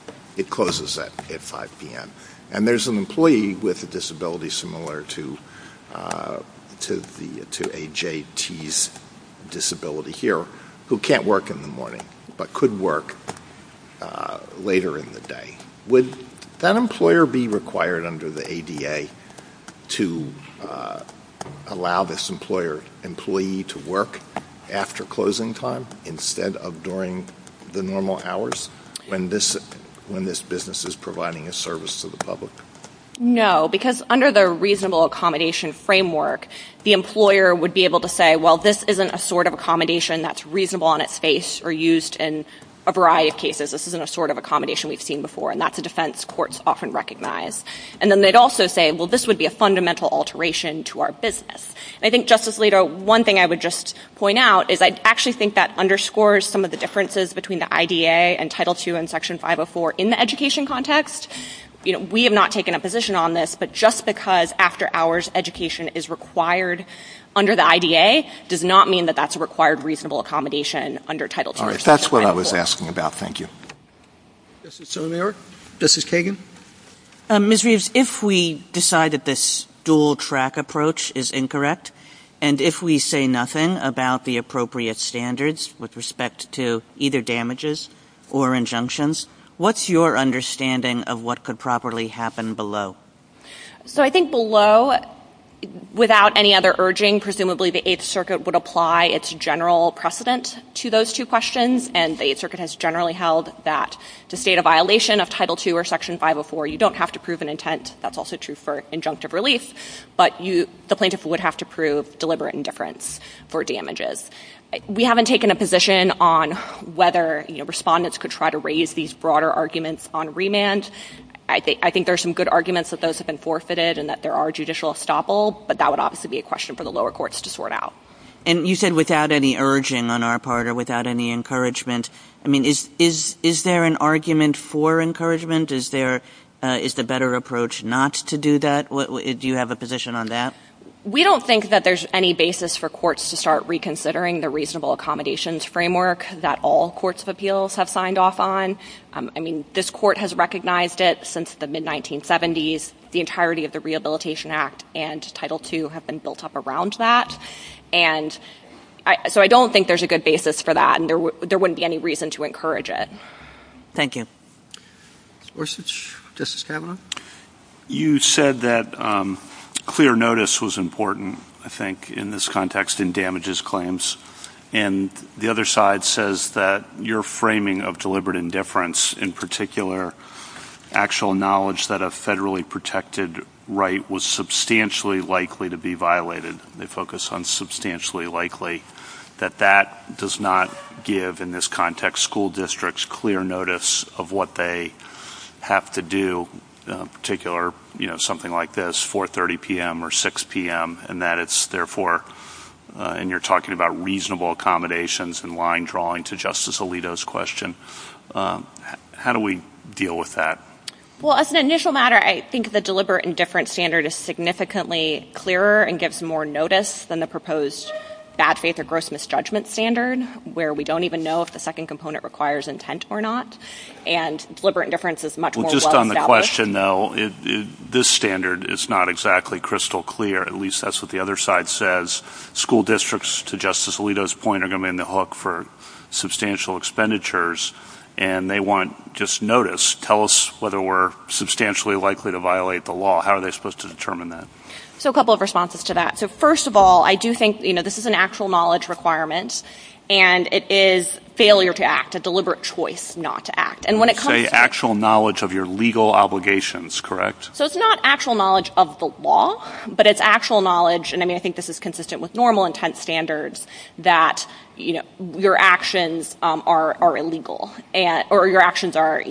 closes at 5 p.m. And there's an employee with a disability similar to AJT's disability here who can't work in the morning but could work later in the day. Would that employer be required under the ADA to allow this employee to work after closing time instead of during the normal hours when this business is providing a service to the public? No, because under the reasonable accommodation framework, the employer would be able to say, well, this isn't a sort of accommodation that's reasonable on its face or used in a variety of cases. This isn't a sort of accommodation we've seen before, and that's a defense courts often recognize. And then they'd also say, well, this would be a fundamental alteration to our business. I think, Justice Leder, one thing I would just point out is I actually think that underscores some of the differences between the IDA and Title II and Section 504 in the education context. You know, we have not taken a position on this, but just because after-hours education is required under the IDA does not mean that that's a required reasonable accommodation under Title II and Section 504. All right, that's what I was asking about. Thank you. Justice Sotomayor? Justice Kagan? Ms. Reeves, if we decide that this dual-track approach is incorrect and if we say nothing about the appropriate standards with respect to either damages or injunctions, what's your understanding of what could properly happen below? So I think below, without any other urging, presumably the Eighth Circuit would apply its general precedent to those two questions, and the Eighth Circuit has generally held that the state of violation of Title II or Section 504, you don't have to prove an intent. That's also true for injunctive release, but the plaintiff would have to prove deliberate indifference for damages. We haven't taken a position on whether, you know, respondents could try to raise these broader arguments on remand. I think there are some good arguments that those have been forfeited and that there are judicial estoppels, but that would obviously be a question for the lower courts to sort out. And you said without any urging on our part or without any encouragement. I mean, is there an argument for encouragement? Is there a better approach not to do that? Do you have a position on that? We don't think that there's any basis for courts to start reconsidering the reasonable accommodations framework that all courts of appeals have signed off on. I mean, this court has recognized it since the mid-1970s. The entirety of the Rehabilitation Act and Title II have been built up around that. And so I don't think there's a good basis for that, and there wouldn't be any reason to encourage it. Thank you. Orsic, Justice Kavanaugh? You said that clear notice was important, I think, in this context in damages claims. And the other side says that your framing of deliberate indifference, in particular actual knowledge that a federally protected right was substantially likely to be violated, they focus on substantially likely, that that does not give, in this context, school districts clear notice of what they have to do, in particular something like this, 4.30 p.m. or 6.00 p.m., and that it's, therefore, and you're talking about reasonable accommodations and line drawing to Justice Alito's question. How do we deal with that? Well, as an initial matter, I think the deliberate indifference standard is significantly clearer and gives more notice than the proposed bad faith or gross misjudgment standard, where we don't even know if the second component requires intent or not. And deliberate indifference is much more well-developed. Just on the question, though, this standard is not exactly crystal clear. At least that's what the other side says. School districts, to Justice Alito's point, are going to be on the hook for substantial expenditures, and they want just notice. Tell us whether we're substantially likely to violate the law. How are they supposed to determine that? So a couple of responses to that. So, first of all, I do think, you know, this is an actual knowledge requirement, and it is failure to act, a deliberate choice not to act. You say actual knowledge of your legal obligations, correct? So it's not actual knowledge of the law, but it's actual knowledge, and I think this is consistent with normal intent standards, that your actions are illegal, or your actions are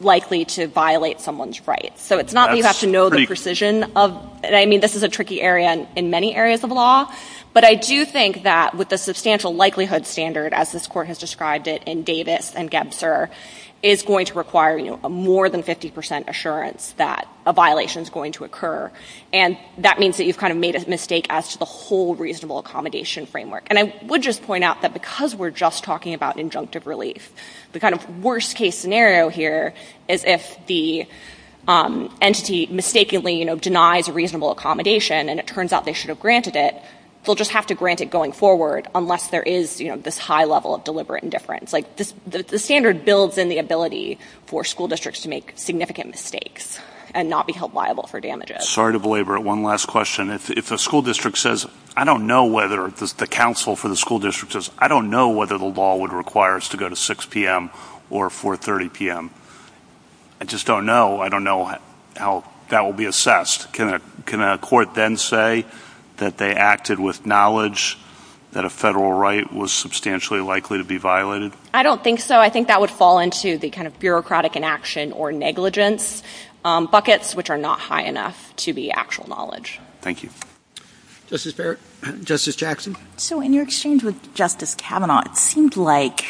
likely to violate someone's rights. So it's not that you have to know the precision of... I mean, this is a tricky area in many areas of law, but I do think that with the substantial likelihood standard, as this Court has described it in Davis and Gebser, is going to require, you know, a more than 50% assurance that a violation is going to occur, and that means that you've kind of made a mistake as to the whole reasonable accommodation framework. And I would just point out that because we're just talking about injunctive relief, the kind of worst-case scenario here is if the entity mistakenly, you know, denies reasonable accommodation, and it turns out they should have granted it, they'll just have to grant it going forward, unless there is, you know, this high level of deliberate indifference. Like, the standard builds in the ability for school districts to make significant mistakes and not be held liable for damages. Sorry to belabor it. One last question. If a school district says, I don't know whether the counsel for the school district says, I don't know whether the law would require us to go to 6 p.m. or 4.30 p.m., I just don't know. I don't know how that will be assessed. Can a court then say that they acted with knowledge that a federal right was substantially likely to be violated? I don't think so. I think that would fall into the kind of bureaucratic inaction or negligence buckets, which are not high enough to be actual knowledge. Thank you. Justice Jackson? So, in your exchange with Justice Kavanaugh, it seemed like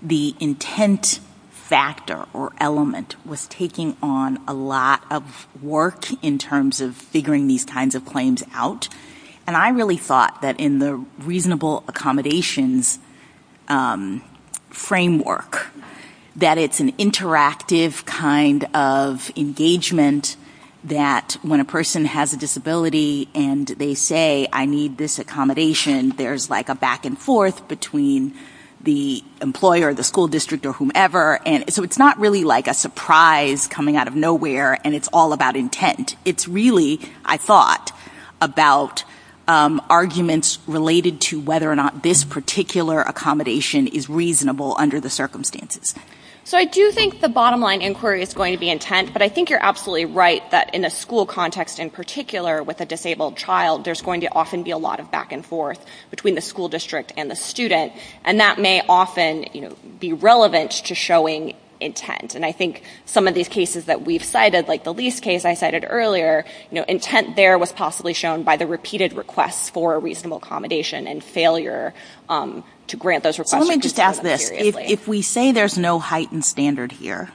the intent factor or element was taking on a lot of work in terms of figuring these kinds of claims out. And I really thought that in the reasonable accommodations framework, that it's an interactive kind of engagement that when a person has a disability and they say, I need this accommodation, there's like a back and forth between the employer, the school district, or whomever. So, it's not really like a surprise coming out of nowhere, and it's all about intent. It's really, I thought, about arguments related to whether or not this particular accommodation is reasonable under the circumstances. So, I do think the bottom line inquiry is going to be intent, but I think you're absolutely right that in a school context in particular with a disabled child, there's going to often be a lot of back and forth between the school district and the student, and that may often be relevant to showing intent. And I think some of these cases that we've cited, like the lease case I cited earlier, intent there was possibly shown by the repeated request for a reasonable accommodation and failure to grant those requests. Let me just ask this. If we say there's no heightened standard here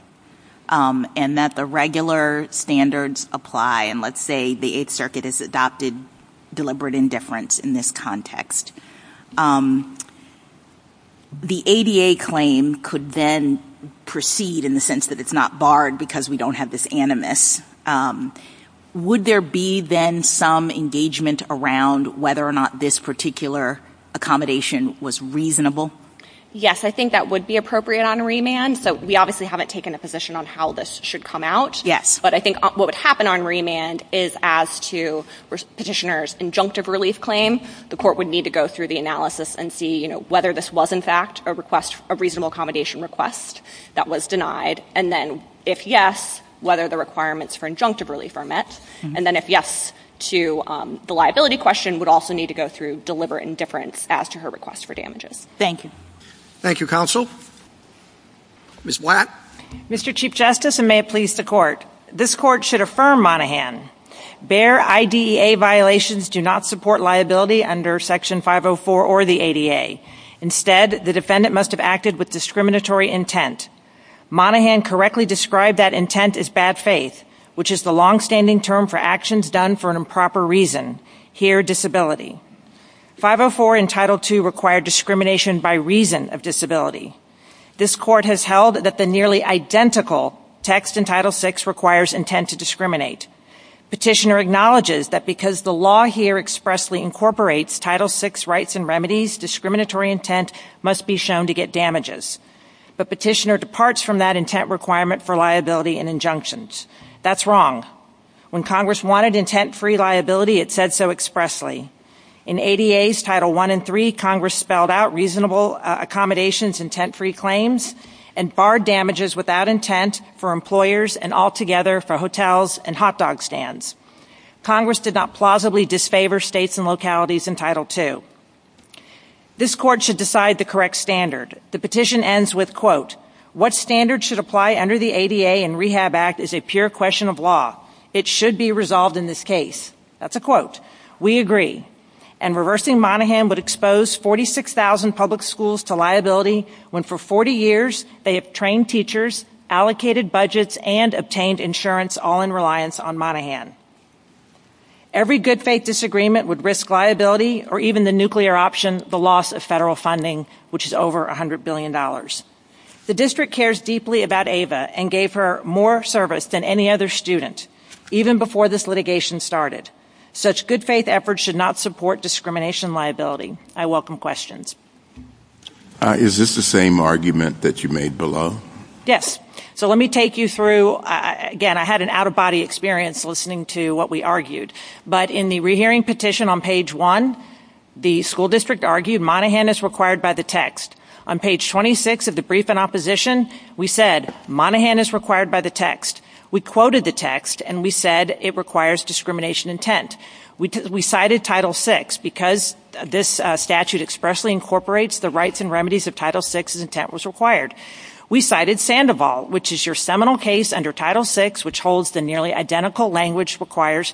and that the regular standards apply, and let's say the Eighth Circuit has adopted deliberate indifference in this context, the ADA claim could then proceed in the sense that it's not barred because we don't have this animus. Would there be then some engagement around whether or not this particular accommodation was reasonable? Yes, I think that would be appropriate on remand. So, we obviously haven't taken a position on how this should come out. But I think what would happen on remand is as to petitioner's injunctive relief claim, the court would need to go through the analysis and see whether this was, in fact, a reasonable accommodation request that was denied. And then, if yes, whether the requirements for injunctive relief are met. And then, if yes to the liability question, would also need to go through deliberate indifference as to her request for damages. Thank you. Thank you, Counsel. Ms. Blatt. Mr. Chief Justice, and may it please the Court, this Court should affirm Monaghan. Bare IDEA violations do not support liability under Section 504 or the ADA. Instead, the defendant must have acted with discriminatory intent. Monaghan correctly described that intent as bad faith, which is the longstanding term for actions done for an improper reason. Here, disability. 504 and Title II require discrimination by reason of disability. This Court has held that the nearly identical text in Title VI requires intent to discriminate. Petitioner acknowledges that because the law here expressly incorporates Title VI rights and remedies, discriminatory intent must be shown to get damages. But petitioner departs from that intent requirement for liability and injunctions. That's wrong. When Congress wanted intent-free liability, it said so expressly. In ADA's Title I and III, Congress spelled out reasonable accommodations, intent-free claims, and barred damages without intent for employers and altogether for hotels and hot dog stands. Congress did not plausibly disfavor states and localities in Title II. This Court should decide the correct standard. The petition ends with, quote, what standard should apply under the ADA and Rehab Act is a pure question of law. It should be resolved in this case. That's a quote. We agree. And reversing Monaghan would expose 46,000 public schools to liability when for 40 years they have trained teachers, allocated budgets, and obtained insurance, all in reliance on Monaghan. Every good faith disagreement would risk liability or even the nuclear option, the loss of federal funding, which is over $100 billion. The district cares deeply about Ava and gave her more service than any other student, even before this litigation started. Such good faith efforts should not support discrimination liability. I welcome questions. Is this the same argument that you made below? Yes. So let me take you through, again, I had an out-of-body experience listening to what we argued. But in the rehearing petition on page 1, the school district argued Monaghan is required by the text. On page 26 of the brief in opposition, we said, Monaghan is required by the text. We quoted the text, and we said it requires discrimination intent. We cited Title VI. Because this statute expressly incorporates the rights and remedies of Title VI, intent was required. We cited Sandoval, which is your seminal case under Title VI, which holds the nearly identical language requires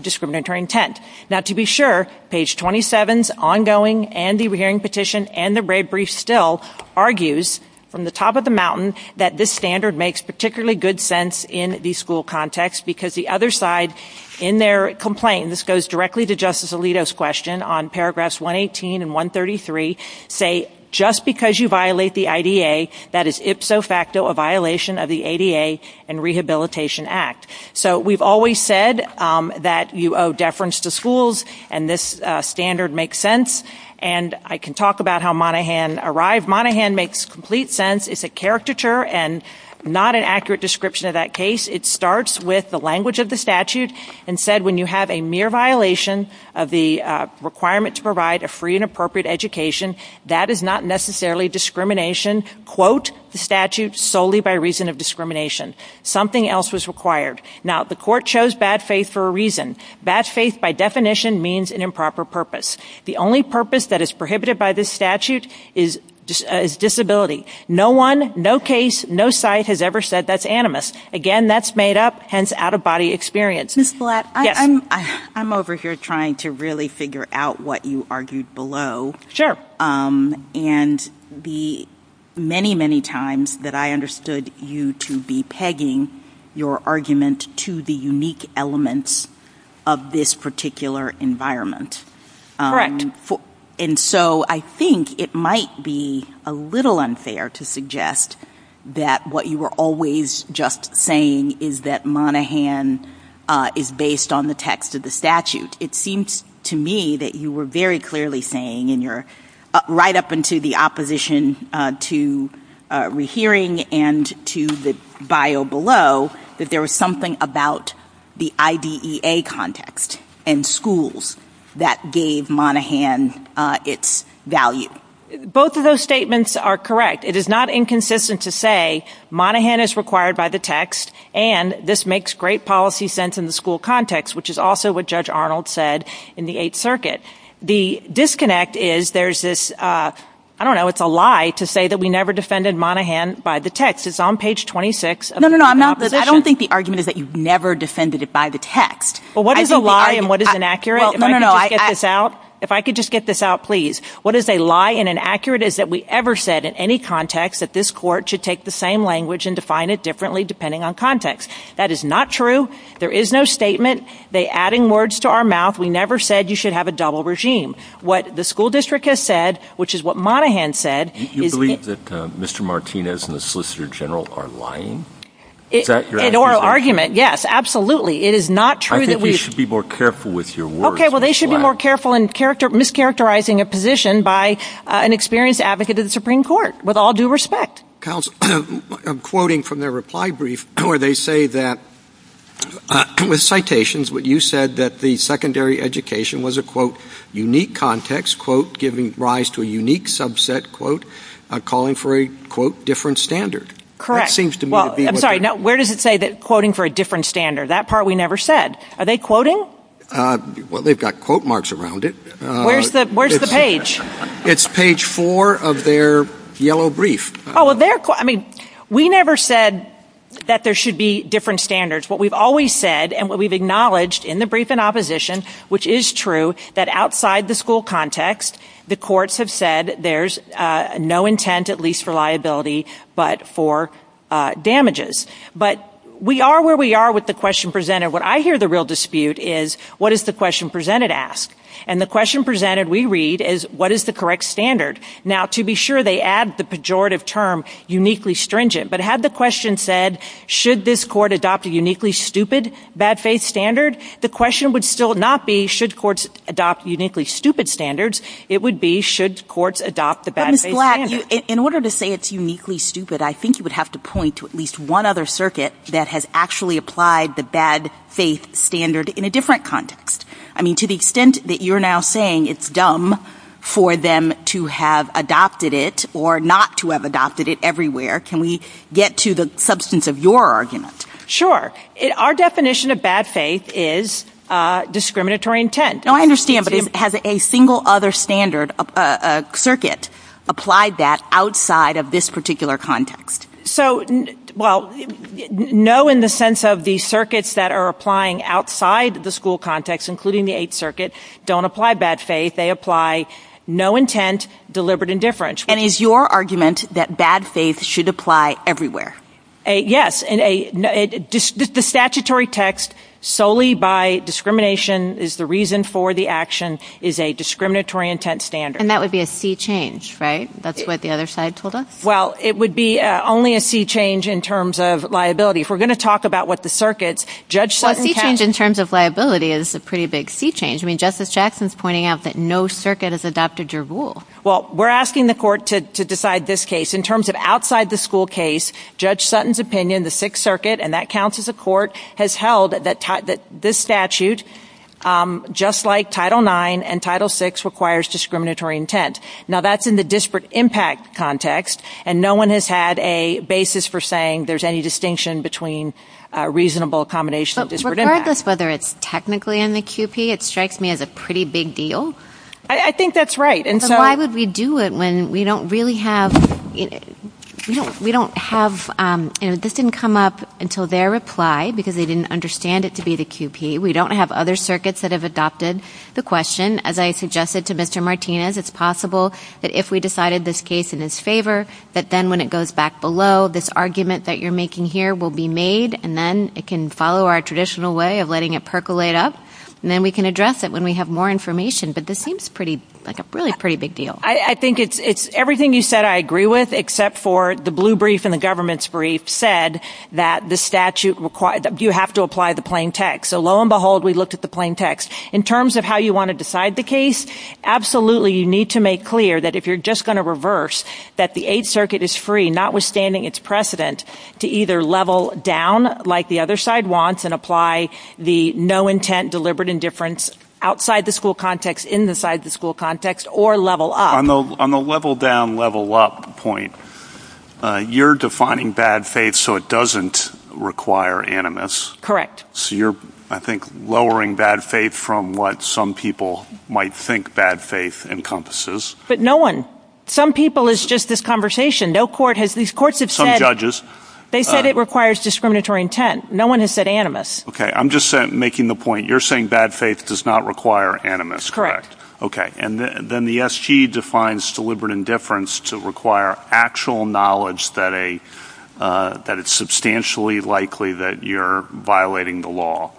discriminatory intent. Now, to be sure, page 27's ongoing and the hearing petition and the red brief still argues, from the top of the mountain, that this standard makes particularly good sense in the school context because the other side in their complaint, and this goes directly to Justice Alito's question, on paragraphs 118 and 133, say, just because you violate the IDA, that is ipso facto a violation of the ADA and Rehabilitation Act. So we've always said that you owe deference to schools, and this standard makes sense, and I can talk about how Monaghan arrived. Monaghan makes complete sense. It's a caricature and not an accurate description of that case. It starts with the language of the statute and said, when you have a mere violation of the requirement to provide a free and appropriate education, that is not necessarily discrimination. Quote the statute solely by reason of discrimination. Something else was required. Now, the court chose bad faith for a reason. Bad faith, by definition, means an improper purpose. The only purpose that is prohibited by this statute is disability. No one, no case, no site has ever said that's animus. Again, that's made up, hence out-of-body experience. Ms. Blatt, I'm over here trying to really figure out what you argued below. Sure. And the many, many times that I understood you to be pegging your argument to the unique elements of this particular environment. And so I think it might be a little unfair to suggest that what you were always just saying is that Monaghan is based on the text of the statute. It seems to me that you were very clearly saying, and you're right up into the opposition to rehearing and to the bio below, that there was something about the IDEA context and schools that gave Monaghan its value. Both of those statements are correct. It is not inconsistent to say Monaghan is required by the text and this makes great policy sense in the school context, which is also what Judge Arnold said in the Eighth Circuit. The disconnect is there's this, I don't know, it's a lie to say that we never defended Monaghan by the text. It's on page 26. No, no, no, I'm not. I don't think the argument is that you never defended it by the text. Well, what is a lie and what is inaccurate? No, no, no. If I could just get this out, please. What is a lie and inaccurate is that we ever said in any context that this court should take the same language and define it differently depending on context. That is not true. There is no statement. They're adding words to our mouth. We never said you should have a double regime. What the school district has said, which is what Monaghan said. Do you believe that Mr. Martinez and the Solicitor General are lying? In oral argument, yes, absolutely. It is not true that we. I think they should be more careful with your words. Okay, well, they should be more careful in mischaracterizing a position by an experienced advocate of the Supreme Court with all due respect. I'm quoting from their reply brief where they say that with citations what you said that the secondary education was a, quote, unique context, quote, giving rise to a unique subset, quote, calling for a, quote, different standard. Correct. I'm sorry. Where does it say that quoting for a different standard? That part we never said. Are they quoting? Well, they've got quote marks around it. Where's the page? It's page four of their yellow brief. I mean, we never said that there should be different standards. What we've always said and what we've acknowledged in the brief in opposition, which is true, that outside the school context, the courts have said there's no intent at least for liability but for damages. But we are where we are with the question presented. What I hear the real dispute is what does the question presented ask? And the question presented, we read, is what is the correct standard? Now, to be sure, they add the pejorative term uniquely stringent. But had the question said should this court adopt a uniquely stupid bad faith standard, the question would still not be should courts adopt uniquely stupid standards. It would be should courts adopt the bad faith standards. Ms. Black, in order to say it's uniquely stupid, I think you would have to point to at least one other circuit that has actually applied the bad faith standard in a different context. I mean, to the extent that you're now saying it's dumb for them to have adopted it or not to have adopted it everywhere, can we get to the substance of your argument? Sure. Our definition of bad faith is discriminatory intent. I understand, but has a single other standard, a circuit, applied that outside of this particular context? So, well, no in the sense of the circuits that are applying outside the school context, including the Eighth Circuit, don't apply bad faith. They apply no intent, deliberate indifference. And is your argument that bad faith should apply everywhere? Yes. The statutory text, solely by discrimination is the reason for the action, is a discriminatory intent standard. And that would be a sea change, right? That's what the other side told us? Well, it would be only a sea change in terms of liability. If we're going to talk about what the circuits, Judge Sutton said... Well, a sea change in terms of liability is a pretty big sea change. I mean, Justice Jackson's pointing out that no circuit has adopted your rules. Well, we're asking the court to decide this case. In terms of outside the school case, Judge Sutton's opinion, the Sixth Circuit, and that counts as a court, has held that this statute, just like Title IX and Title VI, requires discriminatory intent. Now, that's in the disparate impact context, and no one has had a basis for saying there's any distinction between reasonable accommodation of disparate impact. Regardless whether it's technically in the QP, it strikes me as a pretty big deal. I think that's right. So why would we do it when we don't really have... We don't have... This didn't come up until their reply, because they didn't understand it to be the QP. We don't have other circuits that have adopted the question. As I suggested to Mr. Martinez, it's possible that if we decided this case in his favor, that then when it goes back below, this argument that you're making here will be made, and then it can follow our traditional way of letting it percolate up, and then we can address it when we have more information. But this seems like a really pretty big deal. I think it's everything you said I agree with, except for the blue brief and the government's brief said that the statute requires... You have to apply the plain text. So lo and behold, we looked at the plain text. In terms of how you want to decide the case, absolutely you need to make clear that if you're just going to reverse, that the Eighth Circuit is free, notwithstanding its precedent, to either level down like the other side wants and apply the no intent, deliberate indifference outside the school context, in the side of the school context, or level up. On the level down, level up point, you're defining bad faith so it doesn't require animus. Correct. So you're, I think, lowering bad faith from what some people might think bad faith encompasses. But no one, some people, it's just this conversation. These courts have said... Some judges. They said it requires discriminatory intent. No one has said animus. Okay. I'm just making the point, you're saying bad faith does not require animus, correct? Okay. And then the SG defines deliberate indifference to require actual knowledge that it's substantially likely that you're violating the law.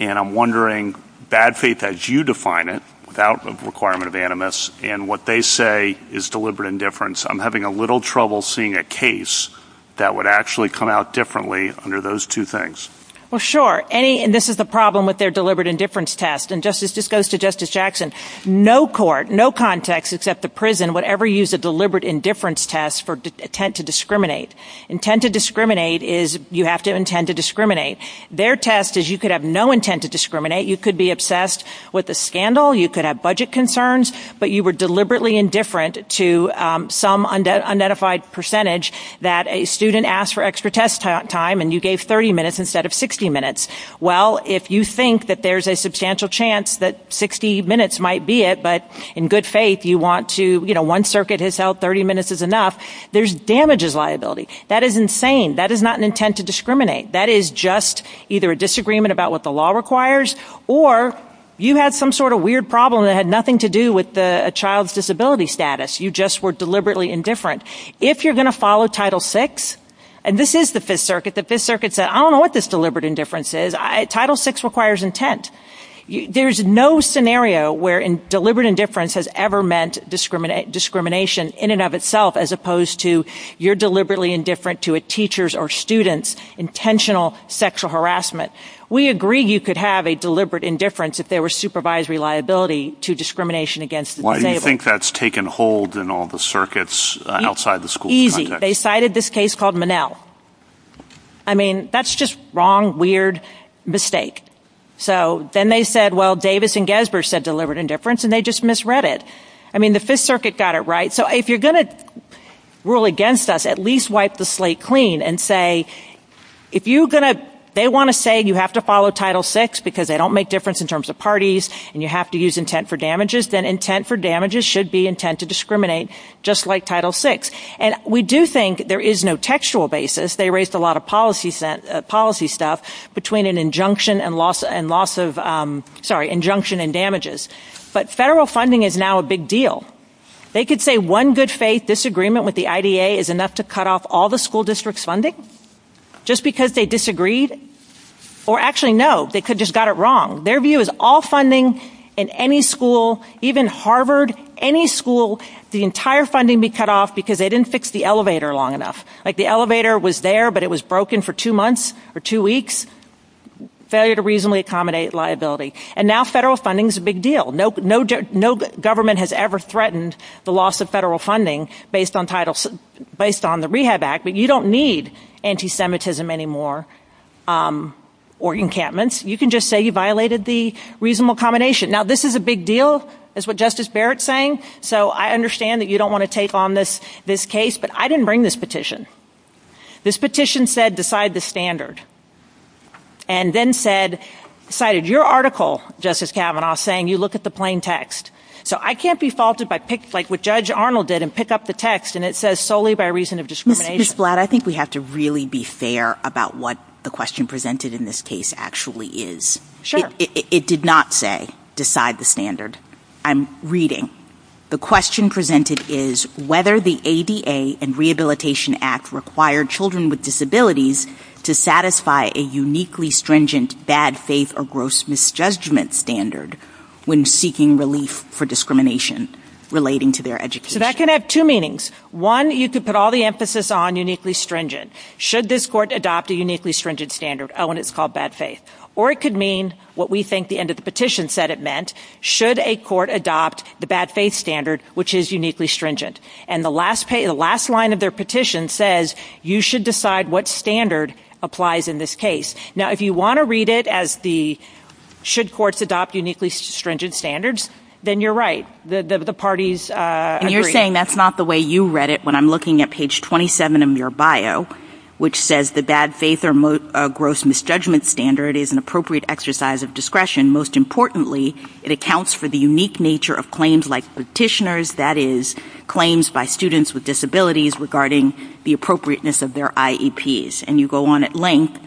And I'm wondering, bad faith as you define it, without the requirement of animus, and what they say is deliberate indifference, I'm having a little trouble seeing a case that would actually come out differently under those two things. Well, sure. And this is the problem with their deliberate indifference test. And this goes to Justice Jackson. No court, no context except the prison would ever use a deliberate indifference test for intent to discriminate. Intent to discriminate is you have to intend to discriminate. Their test is you could have no intent to discriminate. You could be obsessed with a scandal. You could have budget concerns. But you were deliberately indifferent to some undefined percentage that a student asked for extra test time and you gave 30 minutes instead of 60 minutes. Well, if you think that there's a substantial chance that 60 minutes might be it, but in good faith you want to, you know, one circuit has held 30 minutes is enough, there's damages liability. That is insane. That is not an intent to discriminate. That is just either a disagreement about what the law requires or you had some sort of weird problem that had nothing to do with a child's disability status. You just were deliberately indifferent. If you're going to follow Title VI, and this is the Fifth Circuit, the Fifth Circuit said I don't know what this deliberate indifference is. Title VI requires intent. There's no scenario where deliberate indifference has ever meant discrimination in and of itself as opposed to you're deliberately indifferent to a teacher's or student's intentional sexual harassment. We agree you could have a deliberate indifference if there was supervisory liability to discrimination against the disabled. Why do you think that's taken hold in all the circuits outside the school context? Easy. They cited this case called Monell. I mean, that's just wrong, weird mistake. So then they said, well, Davis and Gasbur said deliberate indifference and they just misread it. I mean, the Fifth Circuit got it right. So if you're going to rule against us, at least wipe the slate clean and say, they want to say you have to follow Title VI because they don't make difference in terms of parties and you have to use intent for damages. Then intent for damages should be intent to discriminate just like Title VI. And we do think there is no textual basis. They erased a lot of policy stuff between an injunction and damages. But federal funding is now a big deal. They could say one good faith disagreement with the IDA is enough to cut off all the school district's funding just because they disagreed. Or actually, no, they could have just got it wrong. Their view is all funding in any school, even Harvard, any school, the entire funding be cut off because they didn't fix the elevator long enough. Like the elevator was there but it was broken for two months or two weeks. Failure to reasonably accommodate liability. And now federal funding is a big deal. No government has ever threatened the loss of federal funding based on the Rehab Act. But you don't need anti-Semitism anymore or encampments. You can just say you violated the reasonable accommodation. Now this is a big deal is what Justice Barrett is saying. So I understand that you don't want to take on this case. But I didn't bring this petition. This petition said decide the standard. And then decided your article, Justice Kavanaugh, saying you look at the plain text. So I can't be faulted by what Judge Arnold did and pick up the text and it says solely by reason of discrimination. Ms. Blatt, I think we have to really be fair about what the question presented in this case actually is. It did not say decide the standard. I'm reading. The question presented is whether the ABA and Rehabilitation Act required children with disabilities to satisfy a uniquely stringent bad faith or gross misjudgment standard when seeking relief for discrimination relating to their education. That can have two meanings. One, you could put all the emphasis on uniquely stringent. Should this court adopt a uniquely stringent standard when it's called bad faith? Or it could mean what we think the end of the petition said it meant. Should a court adopt the bad faith standard which is uniquely stringent? And the last line of their petition says you should decide what standard applies in this case. Now, if you want to read it as the should courts adopt uniquely stringent standards, then you're right. The parties agree. And you're saying that's not the way you read it when I'm looking at page 27 of your bio which says the bad faith or gross misjudgment standard is an appropriate exercise of discretion. And most importantly, it accounts for the unique nature of claims like petitioners, that is, claims by students with disabilities regarding the appropriateness of their IEPs. And you go on at length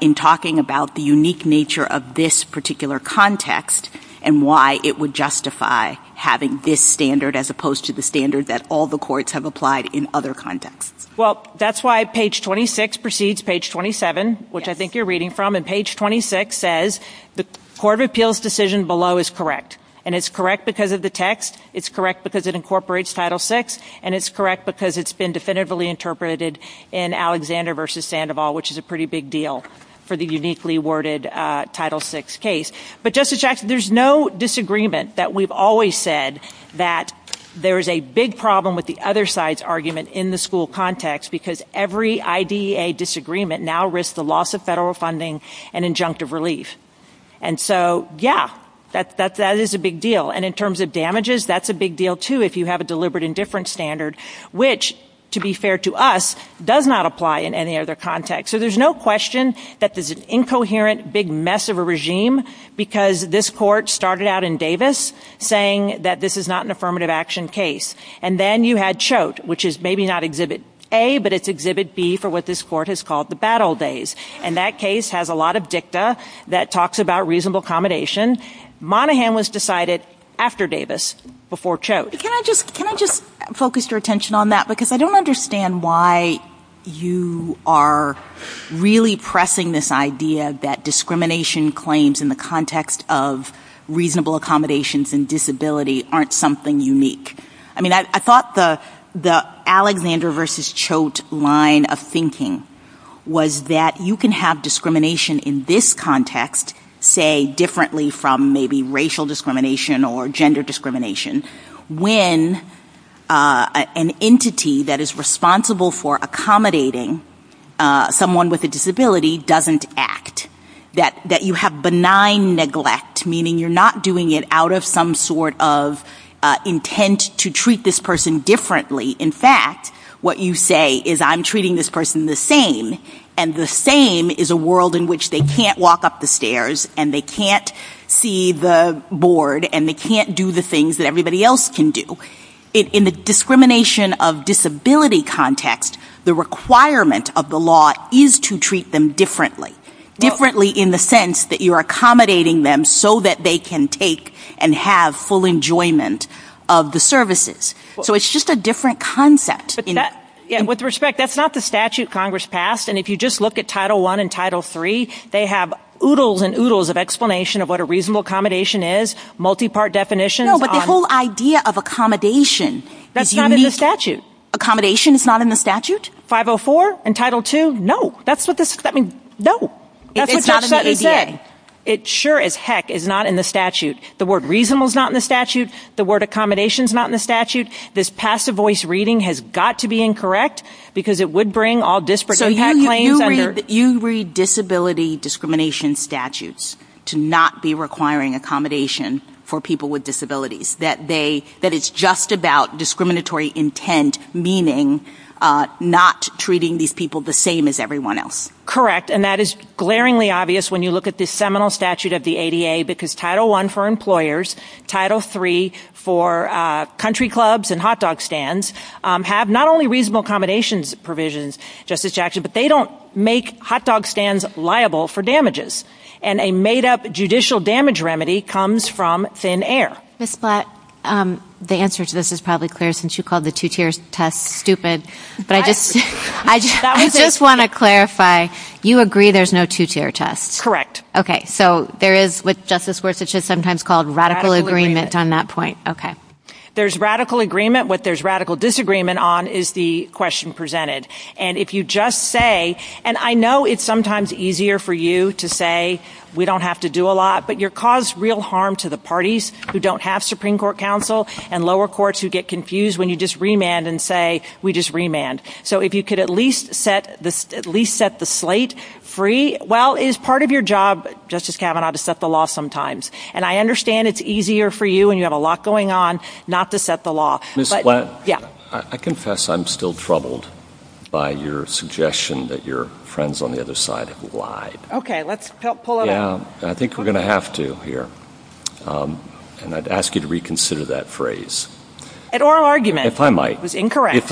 in talking about the unique nature of this particular context and why it would justify having this standard as opposed to the standard that all the courts have applied in other contexts. Well, that's why page 26 precedes page 27, which I think you're reading from. And page 26 says the court of appeals decision below is correct. And it's correct because of the text. It's correct because it incorporates Title VI. And it's correct because it's been definitively interpreted in Alexander v. Sandoval, which is a pretty big deal for the uniquely worded Title VI case. But, Justice Jackson, there's no disagreement that we've always said that there's a big problem with the other side's argument in the school context because every IDEA disagreement now risks the loss of federal funding and injunctive relief. And so, yeah, that is a big deal. And in terms of damages, that's a big deal, too, if you have a deliberate indifference standard, which, to be fair to us, does not apply in any other context. So there's no question that there's an incoherent big mess of a regime because this court started out in Davis saying that this is not an affirmative action case. And then you had Choate, which is maybe not Exhibit A, but it's Exhibit B for what this court has called the battle days. And that case has a lot of dicta that talks about reasonable accommodation. Monaghan was decided after Davis, before Choate. Can I just focus your attention on that? Because I don't understand why you are really pressing this idea that discrimination claims in the context of reasonable accommodations and disability aren't something unique. I mean, I thought the Alexander versus Choate line of thinking was that you can have discrimination in this context, say, differently from maybe racial discrimination or gender discrimination, when an entity that is responsible for accommodating someone with a disability doesn't act. That you have benign neglect, meaning you're not doing it out of some sort of intent to treat this person differently. In fact, what you say is, I'm treating this person the same, and the same is a world in which they can't walk up the stairs and they can't see the board and they can't do the things that everybody else can do. In the discrimination of disability context, the requirement of the law is to treat them differently. Differently in the sense that you're accommodating them so that they can take and have full enjoyment of the services. So it's just a different concept. With respect, that's not the statute Congress passed. And if you just look at Title I and Title III, they have oodles and oodles of explanation of what a reasonable accommodation is, multi-part definitions. No, but the whole idea of accommodation is unique. That's not in the statute. Accommodation is not in the statute? 504 and Title II, no. That's what this, I mean, no. It's not in the ADA. It sure as heck is not in the statute. The word reasonable is not in the statute. The word accommodation is not in the statute. This passive voice reading has got to be incorrect because it would bring all disparate claims under. You said that you read disability discrimination statutes to not be requiring accommodation for people with disabilities. That it's just about discriminatory intent, meaning not treating these people the same as everyone else. Correct, and that is glaringly obvious when you look at this seminal statute of the ADA because Title I for employers, Title III for country clubs and hot dog stands have not only reasonable accommodations provisions, Justice Jackson, but they don't make hot dog stands liable for damages, and a made-up judicial damage remedy comes from thin air. Ms. Platt, the answer to this is probably clear since you called the two-tier test stupid, but I just want to clarify. You agree there's no two-tier test? Correct. Okay, so there is what Justice Gorsuch has sometimes called radical agreement on that point. Okay. There's radical agreement. What there's radical disagreement on is the question presented. And if you just say, and I know it's sometimes easier for you to say we don't have to do a lot, but you cause real harm to the parties who don't have Supreme Court counsel and lower courts who get confused when you just remand and say we just remand. So if you could at least set the slate free, well, it's part of your job, Justice Kavanaugh, to set the law sometimes. And I understand it's easier for you and you have a lot going on not to set the law. Ms. Platt, I confess I'm still troubled by your suggestion that your friends on the other side have lied. Okay, let's pull it away. I think we're going to have to here, and I'd ask you to reconsider that phrase. An oral argument. If I might. It was incorrect.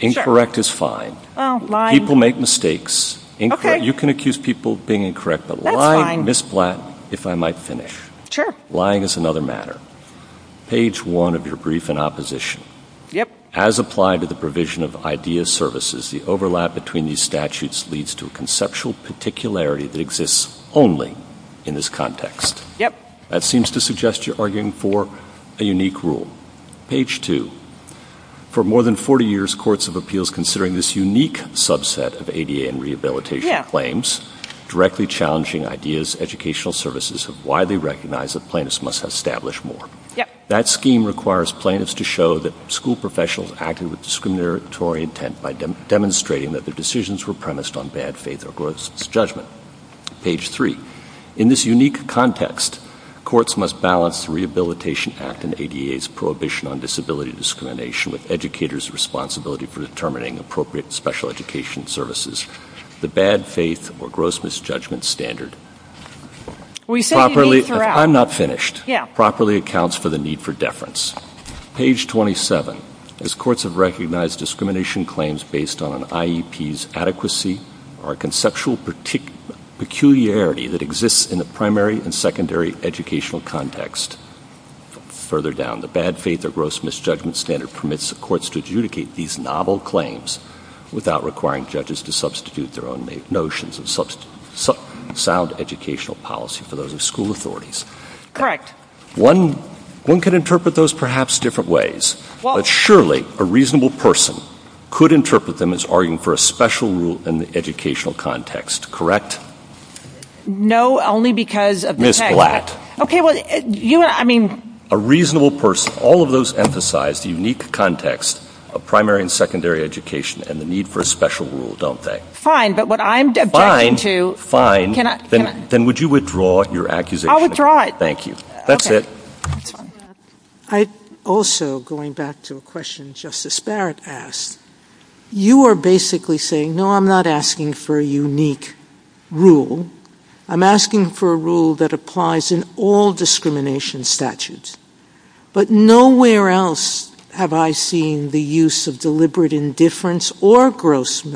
Incorrect is fine. People make mistakes. You can accuse people of being incorrect, but lying, Ms. Platt, if I might finish. Sure. Lying is another matter. Page one of your brief in opposition. Yep. As applied to the provision of IDEA services, the overlap between these statutes leads to a conceptual particularity that exists only in this context. Yep. That seems to suggest you're arguing for a unique rule. Page two. For more than 40 years, courts of appeals, considering this unique subset of ADA and rehabilitation claims, directly challenging IDEA's educational services have widely recognized that plaintiffs must establish more. That scheme requires plaintiffs to show that school professionals acted with discriminatory intent by demonstrating that the decisions were premised on bad faith or gross judgment. Page three. In this unique context, courts must balance the Rehabilitation Act and ADA's prohibition on disability discrimination with educators' responsibility for determining appropriate special education services. The bad faith or gross misjudgment standard properly accounts for the need for deference. Page 27. As courts have recognized discrimination claims based on an IEP's adequacy or a conceptual peculiarity that exists in the primary and secondary educational context, further down, the bad faith or gross misjudgment standard permits the courts to adjudicate these novel claims without requiring judges to substitute their own notions of sound educational policy for those of school authorities. Correct. One could interpret those perhaps different ways, but surely a reasonable person could interpret them as arguing for a special rule in the educational context, correct? No, only because of the text. Ms. Flatt. A reasonable person. All of those emphasize the unique context of primary and secondary education and the need for a special rule, don't they? But what I'm- Fine. Fine. Then would you withdraw your accusation? I'll withdraw it. Thank you. That's it. Also, going back to a question Justice Barrett asked, you are basically saying, no, I'm not asking for a unique rule. I'm asking for a rule that applies in all discrimination statutes. But nowhere else have I seen the use of deliberate indifference or gross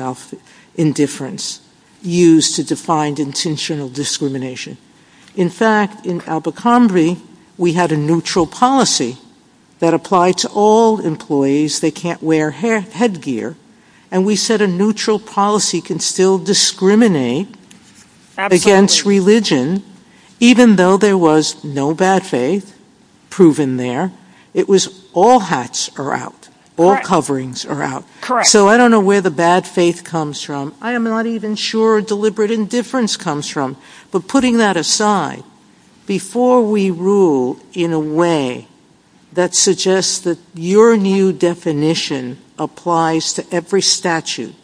indifference used to define intentional discrimination. In fact, in Albuquerque, we had a neutral policy that applied to all employees. They can't wear headgear. And we said a neutral policy can still discriminate against religion even though there was no bad faith proven there. It was all hats are out. All coverings are out. Correct. So I don't know where the bad faith comes from. I am not even sure deliberate indifference comes from. But putting that aside, before we rule in a way that suggests that your new definition applies to every statute,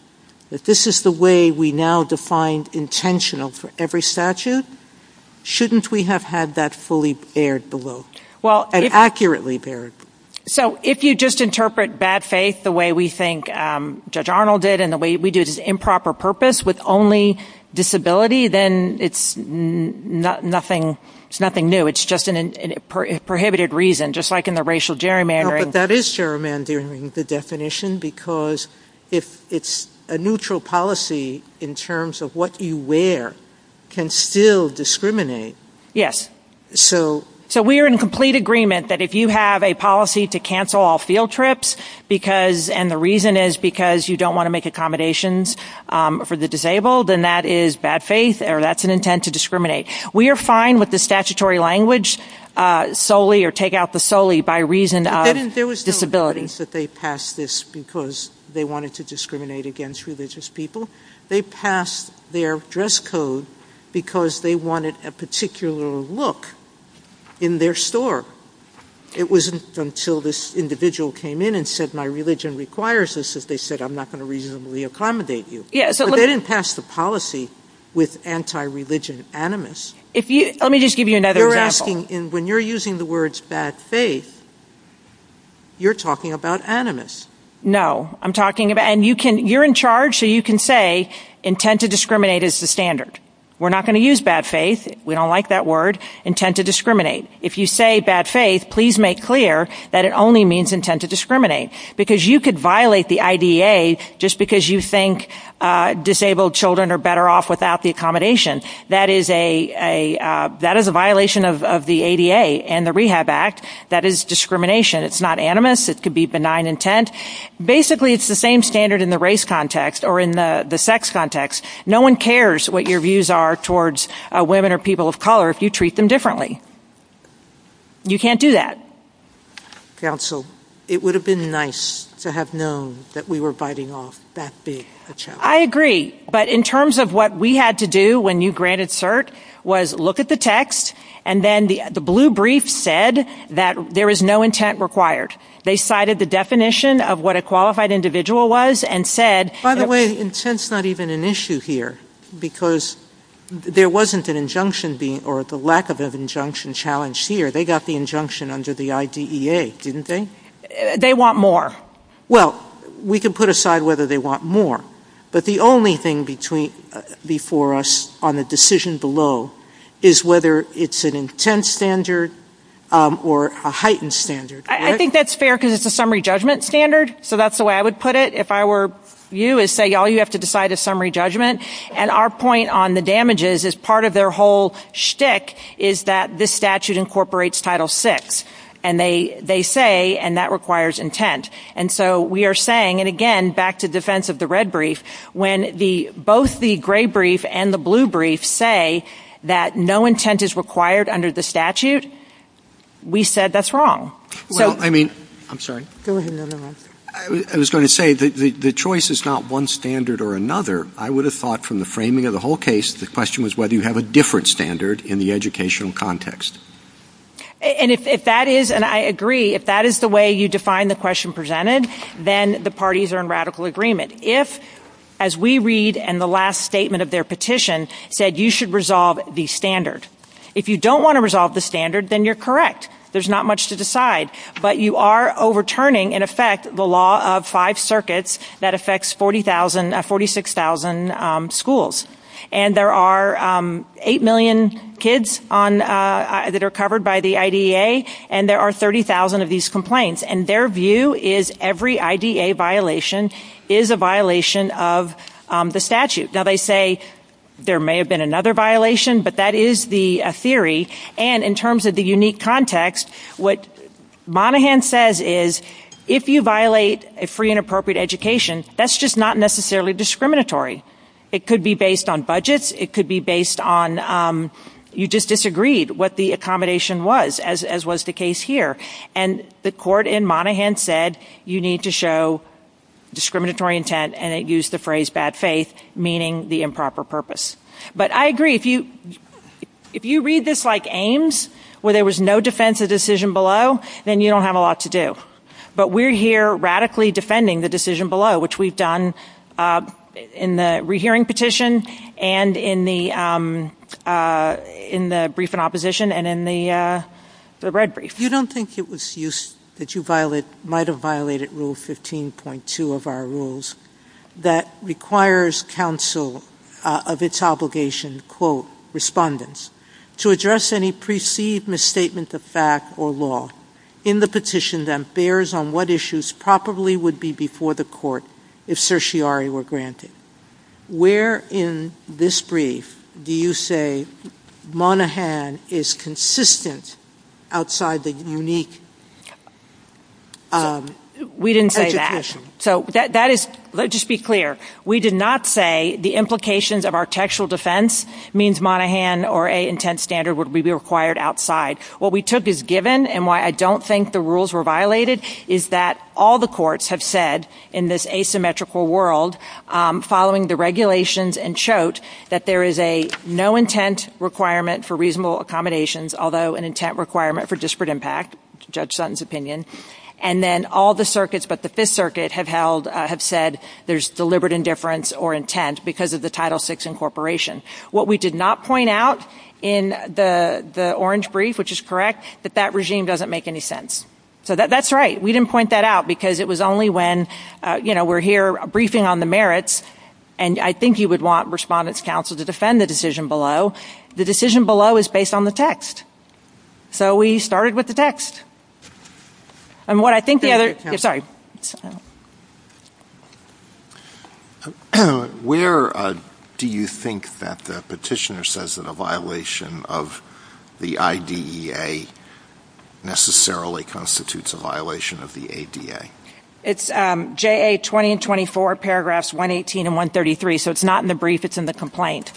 that this is the way we now define intentional for every statute, shouldn't we have had that fully aired below? Well- And accurately aired. So if you just interpret bad faith the way we think Judge Arnold did and the way we do it as improper purpose with only disability, then it's nothing new. It's just a prohibited reason, just like in the racial gerrymandering. But that is gerrymandering, the definition, because if it's a neutral policy in terms of what you wear can still discriminate. Yes. So we are in complete agreement that if you have a policy to cancel all field trips and the reason is because you don't want to make accommodations for the disabled, then that is bad faith or that's an intent to discriminate. We are fine with the statutory language solely or take out the solely by reason of disability. There was no evidence that they passed this because they wanted to discriminate against religious people. They passed their dress code because they wanted a particular look in their store. It wasn't until this individual came in and said my religion requires this that they said I'm not going to reasonably accommodate you. They didn't pass the policy with anti-religion animus. Let me just give you another example. When you're using the words bad faith, you're talking about animus. No. You're in charge so you can say intent to discriminate is the standard. We're not going to use bad faith. We don't like that word. Intent to discriminate. If you say bad faith, please make clear that it only means intent to discriminate because you could violate the IDA just because you think disabled children are better off without the accommodation. That is a violation of the ADA and the Rehab Act. That is discrimination. It's not animus. It could be benign intent. Basically, it's the same standard in the race context or in the sex context. No one cares what your views are towards women or people of color if you treat them differently. You can't do that. Counsel, it would have been nice to have known that we were biting off that big a chunk. I agree. But in terms of what we had to do when you granted cert was look at the text and then the blue brief said that there is no intent required. They cited the definition of what a qualified individual was and said By the way, intent's not even an issue here because there wasn't an injunction being or the lack of an injunction challenged here. They got the injunction under the IDEA, didn't they? They want more. Well, we can put aside whether they want more. But the only thing before us on the decision below is whether it's an intent standard or a heightened standard. I think that's fair because it's a summary judgment standard, so that's the way I would put it. If I were you, I'd say, y'all, you have to decide a summary judgment. And our point on the damages is part of their whole shtick is that this statute incorporates Title VI. And they say, and that requires intent. And so we are saying, and again, back to defense of the red brief, when both the gray brief and the blue brief say that no intent is required under the statute, we said that's wrong. Well, I mean, I'm sorry. Go ahead. I was going to say the choice is not one standard or another. I would have thought from the framing of the whole case, the question was whether you have a different standard in the educational context. And if that is, and I agree, if that is the way you define the question presented, then the parties are in radical agreement. If, as we read in the last statement of their petition, said you should resolve the standard. If you don't want to resolve the standard, then you're correct. There's not much to decide. But you are overturning, in effect, the law of five circuits that affects 46,000 schools. And there are 8 million kids that are covered by the IDA, and there are 30,000 of these complaints. And their view is every IDA violation is a violation of the statute. Now, they say there may have been another violation, but that is the theory. And in terms of the unique context, what Monaghan says is if you violate a free and appropriate education, that's just not necessarily discriminatory. It could be based on budgets. It could be based on you just disagreed what the accommodation was, as was the case here. And the court in Monaghan said you need to show discriminatory intent, and it used the phrase bad faith, meaning the improper purpose. But I agree. If you read this like Ames, where there was no defense of decision below, then you don't have a lot to do. But we're here radically defending the decision below, which we've done in the rehearing petition and in the brief in opposition and in the red brief. If you don't think that you might have violated Rule 15.2 of our rules, that requires counsel of its obligation, quote, respondents to address any perceived misstatement of fact or law in the petition that bears on what issues probably would be before the court if certiorari were granted, Where in this brief do you say Monaghan is consistent outside the unique education? So let's just be clear. We did not say the implications of our textual defense means Monaghan or a intent standard would be required outside. What we took as given and why I don't think the rules were violated is that all the courts have said in this asymmetrical world, following the regulations and chote, that there is a no intent requirement for reasonable accommodations, although an intent requirement for disparate impact, Judge Sutton's opinion. And then all the circuits but the Fifth Circuit have said there's deliberate indifference or intent because of the Title VI incorporation. What we did not point out in the orange brief, which is correct, that that regime doesn't make any sense. So that's right. We didn't point that out because it was only when, you know, we're here briefing on the merits. And I think you would want respondents counsel to defend the decision below. The decision below is based on the text. So we started with the text. And what I think the other side. Where do you think that the petitioner says that a violation of the IDEA necessarily constitutes a violation of the ADA? It's JA 20 and 24, paragraphs 118 and 133. So it's not in the brief. It's in the complaint.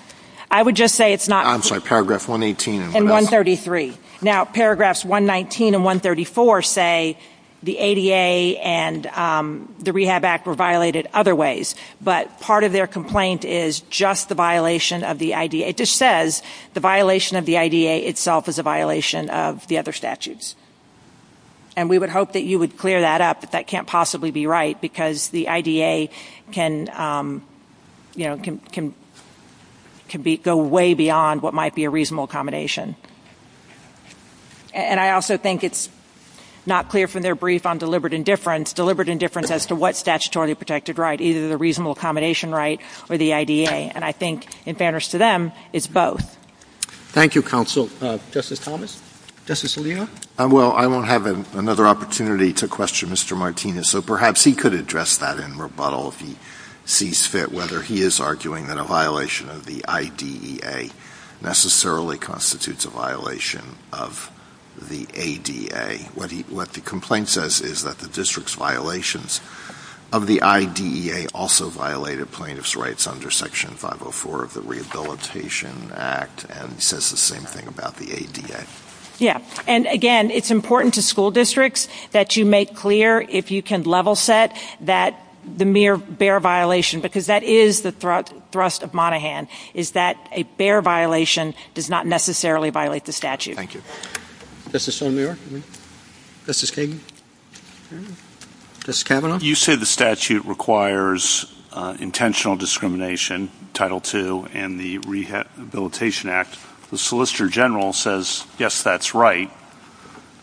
I would just say it's not. I'm sorry. Paragraph 118. And 133. Now, paragraphs 119 and 134 say the ADA and the Rehab Act were violated other ways. But part of their complaint is just the violation of the IDEA. It just says the violation of the IDEA itself is a violation of the other statutes. And we would hope that you would clear that up. But that can't possibly be right because the IDEA can go way beyond what might be a reasonable accommodation. And I also think it's not clear from their brief on deliberate indifference. Deliberate indifference as to what's statutorily protected right, either the reasonable accommodation right or the IDEA. And I think, in fairness to them, it's both. Thank you, counsel. Justice Thomas? Justice Alito? Well, I won't have another opportunity to question Mr. Martinez, so perhaps he could address that in rebuttal if he sees fit, whether he is arguing that a violation of the IDEA necessarily constitutes a violation of the ADA. What the complaint says is that the district's violations of the IDEA also violated plaintiff's rights under Section 504 of the Rehabilitation Act and says the same thing about the ADA. Yes. And, again, it's important to school districts that you make clear, if you can level set, that the mere bare violation, because that is the thrust of Monaghan, is that a bare violation does not necessarily violate the statute. Thank you. Justice O'Meara? Justice Kagan? Justice Kavanaugh? You say the statute requires intentional discrimination, Title II, and the Rehabilitation Act. The Solicitor General says, yes, that's right,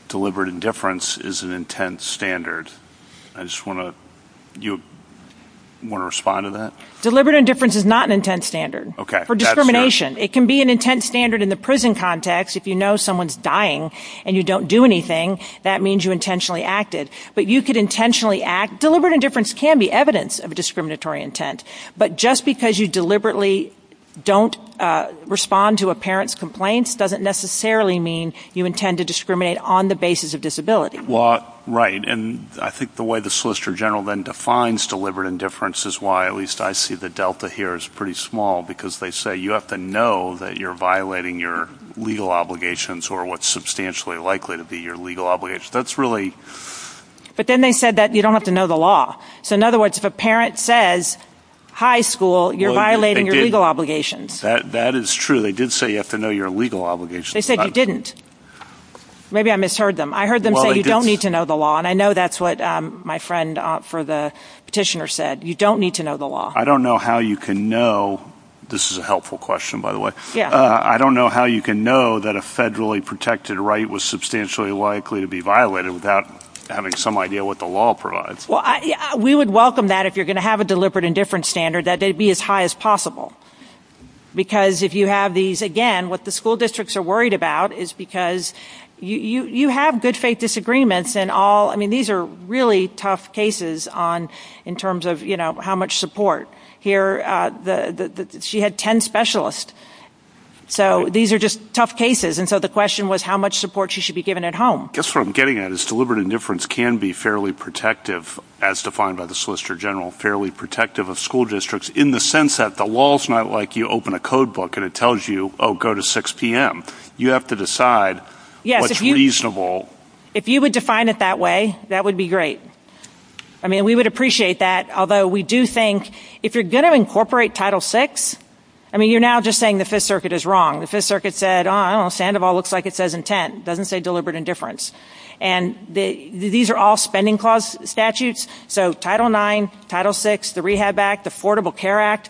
deliberate indifference is an intent standard. Do you want to respond to that? Deliberate indifference is not an intent standard for discrimination. It can be an intent standard in the prison context. If you know someone is dying and you don't do anything, that means you intentionally acted. But you could intentionally act. Deliberate indifference can be evidence of discriminatory intent. But just because you deliberately don't respond to a parent's complaints doesn't necessarily mean you intend to discriminate on the basis of disability. Well, right. And I think the way the Solicitor General then defines deliberate indifference is why at least I see the delta here is pretty small, because they say you have to know that you're violating your legal obligations or what's substantially likely to be your legal obligations. That's really... But then they said that you don't have to know the law. So in other words, if a parent says, high school, you're violating your legal obligations. That is true. They did say you have to know your legal obligations. They said you didn't. Maybe I misheard them. I heard them say you don't need to know the law, and I know that's what my friend for the petitioner said. You don't need to know the law. I don't know how you can know. This is a helpful question, by the way. I don't know how you can know that a federally protected right was substantially likely to be violated without having some idea what the law provides. Well, we would welcome that if you're going to have a deliberate indifference standard, that they be as high as possible. Because if you have these, again, what the school districts are worried about is because you have good faith disagreements and all. I mean, these are really tough cases in terms of, you know, how much support. Here, she had ten specialists. So these are just tough cases. And so the question was how much support she should be given at home. I guess what I'm getting at is deliberate indifference can be fairly protective, as defined by the Solicitor General, fairly protective of school districts in the sense that the law is not like you open a code book and it tells you, oh, go to 6 p.m. You have to decide what's reasonable. If you would define it that way, that would be great. I mean, we would appreciate that. Although we do think if you're going to incorporate Title VI, I mean, you're now just saying the Fifth Circuit is wrong. The Fifth Circuit said, oh, I don't know, Sandoval looks like it says intent. It doesn't say deliberate indifference. And these are all spending clause statutes. So Title IX, Title VI, the Rehab Act, the Affordable Care Act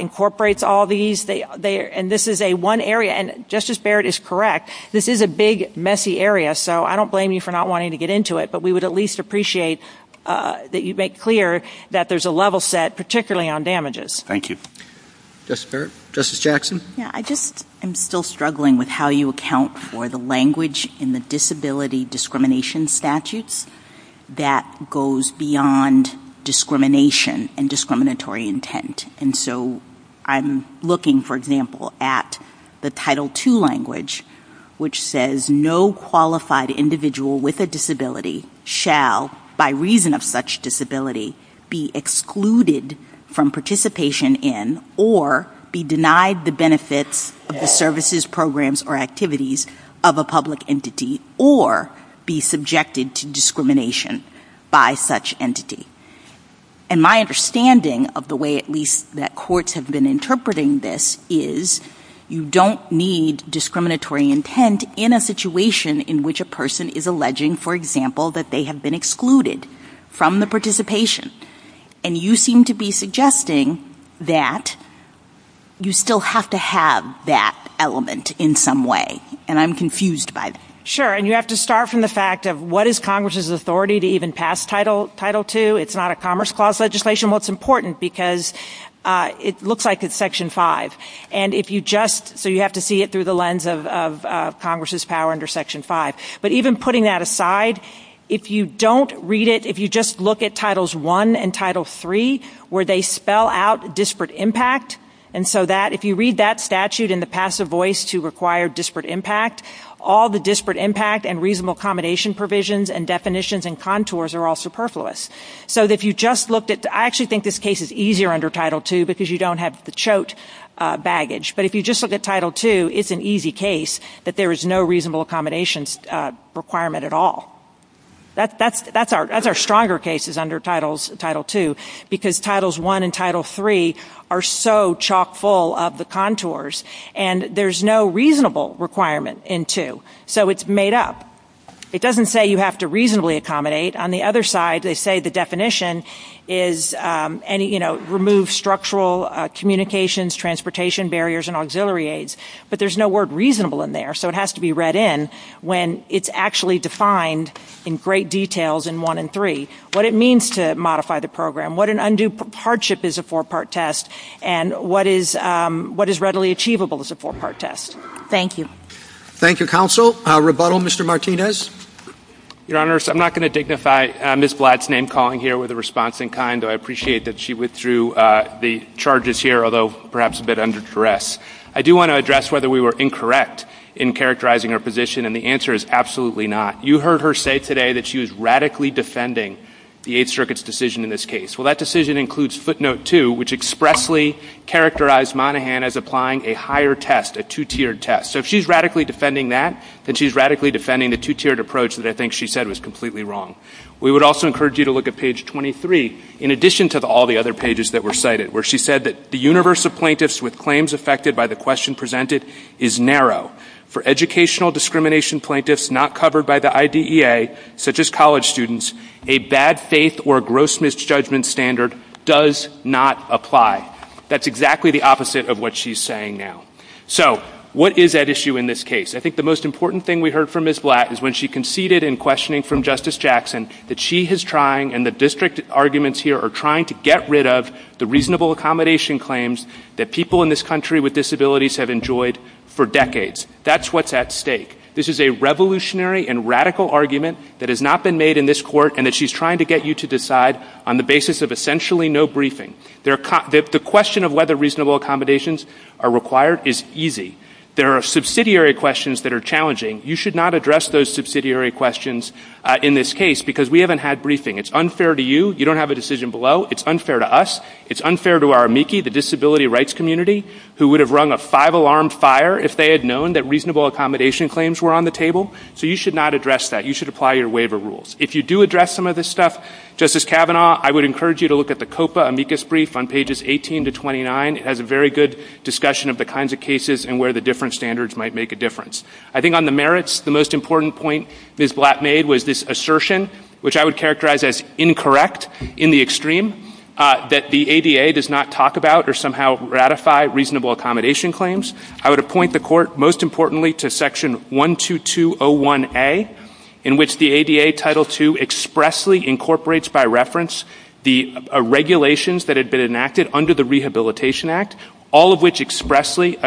incorporates all these. And this is a one area, and Justice Barrett is correct, this is a big, messy area. So I don't blame you for not wanting to get into it. But we would at least appreciate that you make clear that there's a level set, particularly on damages. Thank you. Justice Barrett? I just am still struggling with how you account for the language in the disability discrimination statutes that goes beyond discrimination and discriminatory intent. And so I'm looking, for example, at the Title II language, which says no qualified individual with a disability shall, by reason of such disability, be excluded from participation in or be denied the benefits of the services, programs, or activities of a public entity or be subjected to discrimination by such entity. And my understanding of the way at least that courts have been interpreting this is you don't need discriminatory intent in a situation in which a person is alleging, for example, that they have been excluded from the participation. And you seem to be suggesting that you still have to have that element in some way. And I'm confused by this. Sure. And you have to start from the fact of what is Congress's authority to even pass Title II. It's not a Commerce Clause legislation. Well, it's important because it looks like it's Section V. So you have to see it through the lens of Congress's power under Section V. But even putting that aside, if you don't read it, if you just look at Titles I and Title III, where they spell out disparate impact, and so if you read that statute in the passive voice to require disparate impact, all the disparate impact and reasonable accommodation provisions and definitions and contours are all superfluous. I actually think this case is easier under Title II because you don't have the chote baggage. But if you just look at Title II, it's an easy case that there is no reasonable accommodation requirement at all. That's our stronger cases under Title II because Titles I and Title III are so chock full of the contours, and there's no reasonable requirement in II. So it's made up. It doesn't say you have to reasonably accommodate. On the other side, they say the definition is remove structural communications, transportation barriers, and auxiliary aids. But there's no word reasonable in there, so it has to be read in when it's actually defined in great details in I and III, what it means to modify the program, what an undue hardship is a four-part test, and what is readily achievable as a four-part test. Thank you. Thank you, Counsel. Rebuttal, Mr. Martinez? Your Honors, I'm not going to dignify Ms. Blatt's name-calling here with a response in kind, but I appreciate that she withdrew the charges here, although perhaps a bit under duress. I do want to address whether we were incorrect in characterizing her position, and the answer is absolutely not. You heard her say today that she was radically defending the Eighth Circuit's decision in this case. Well, that decision includes Footnote II, which expressly characterized Monahan as applying a higher test, a two-tiered test. So if she's radically defending that, then she's radically defending the two-tiered approach that I think she said was completely wrong. We would also encourage you to look at page 23, in addition to all the other pages that were cited, where she said that the universe of plaintiffs with claims affected by the question presented is narrow. For educational discrimination plaintiffs not covered by the IDEA, such as college students, a bad faith or gross misjudgment standard does not apply. That's exactly the opposite of what she's saying now. So what is at issue in this case? I think the most important thing we heard from Ms. Blatt is when she conceded in questioning from Justice Jackson that she is trying and the district arguments here are trying to get rid of the reasonable accommodation claims that people in this country with disabilities have enjoyed for decades. That's what's at stake. This is a revolutionary and radical argument that has not been made in this court and that she's trying to get you to decide on the basis of essentially no briefing. The question of whether reasonable accommodations are required is easy. There are subsidiary questions that are challenging. You should not address those subsidiary questions in this case because we haven't had briefing. It's unfair to you. You don't have a decision below. It's unfair to us. It's unfair to our amici, the disability rights community, who would have rung a five-alarm fire if they had known that reasonable accommodation claims were on the table. So you should not address that. You should apply your waiver rules. If you do address some of this stuff, Justice Kavanaugh, I would encourage you to look at the COPA amicus brief on pages 18 to 29. It has a very good discussion of the kinds of cases and where the different standards might make a difference. I think on the merits, the most important point Ms. Blatt made was this assertion, which I would characterize as incorrect in the extreme, that the ADA does not talk about or somehow ratify reasonable accommodation claims. I would appoint the Court, most importantly, to Section 12201A, in which the ADA Title II expressly incorporates by reference the regulations that had been enacted under the Rehabilitation Act, all of which expressly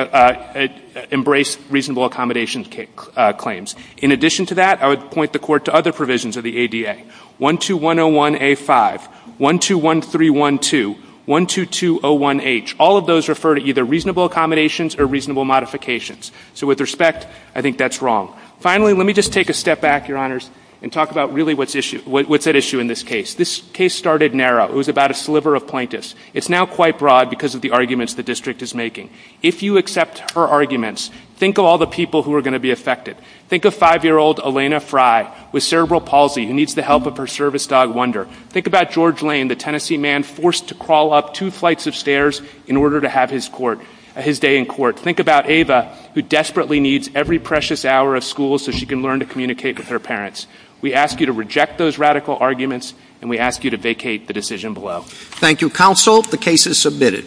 embrace reasonable accommodation claims. In addition to that, I would appoint the Court to other provisions of the ADA, 12101A5, 121312, 12201H. All of those refer to either reasonable accommodations or reasonable modifications. So with respect, I think that's wrong. Finally, let me just take a step back, Your Honors, and talk about really what's at issue in this case. This case started narrow. It was about a sliver of plaintiffs. It's now quite broad because of the arguments the district is making. If you accept her arguments, think of all the people who are going to be affected. Think of five-year-old Elena Frye with cerebral palsy who needs the help of her service dog, Wonder. Think about George Lane, the Tennessee man forced to crawl up two flights of stairs in order to have his day in court. Think about Ava, who desperately needs every precious hour of school so she can learn to communicate with her parents. We ask you to reject those radical arguments, and we ask you to vacate the decision below. Thank you, Counsel. The case is submitted.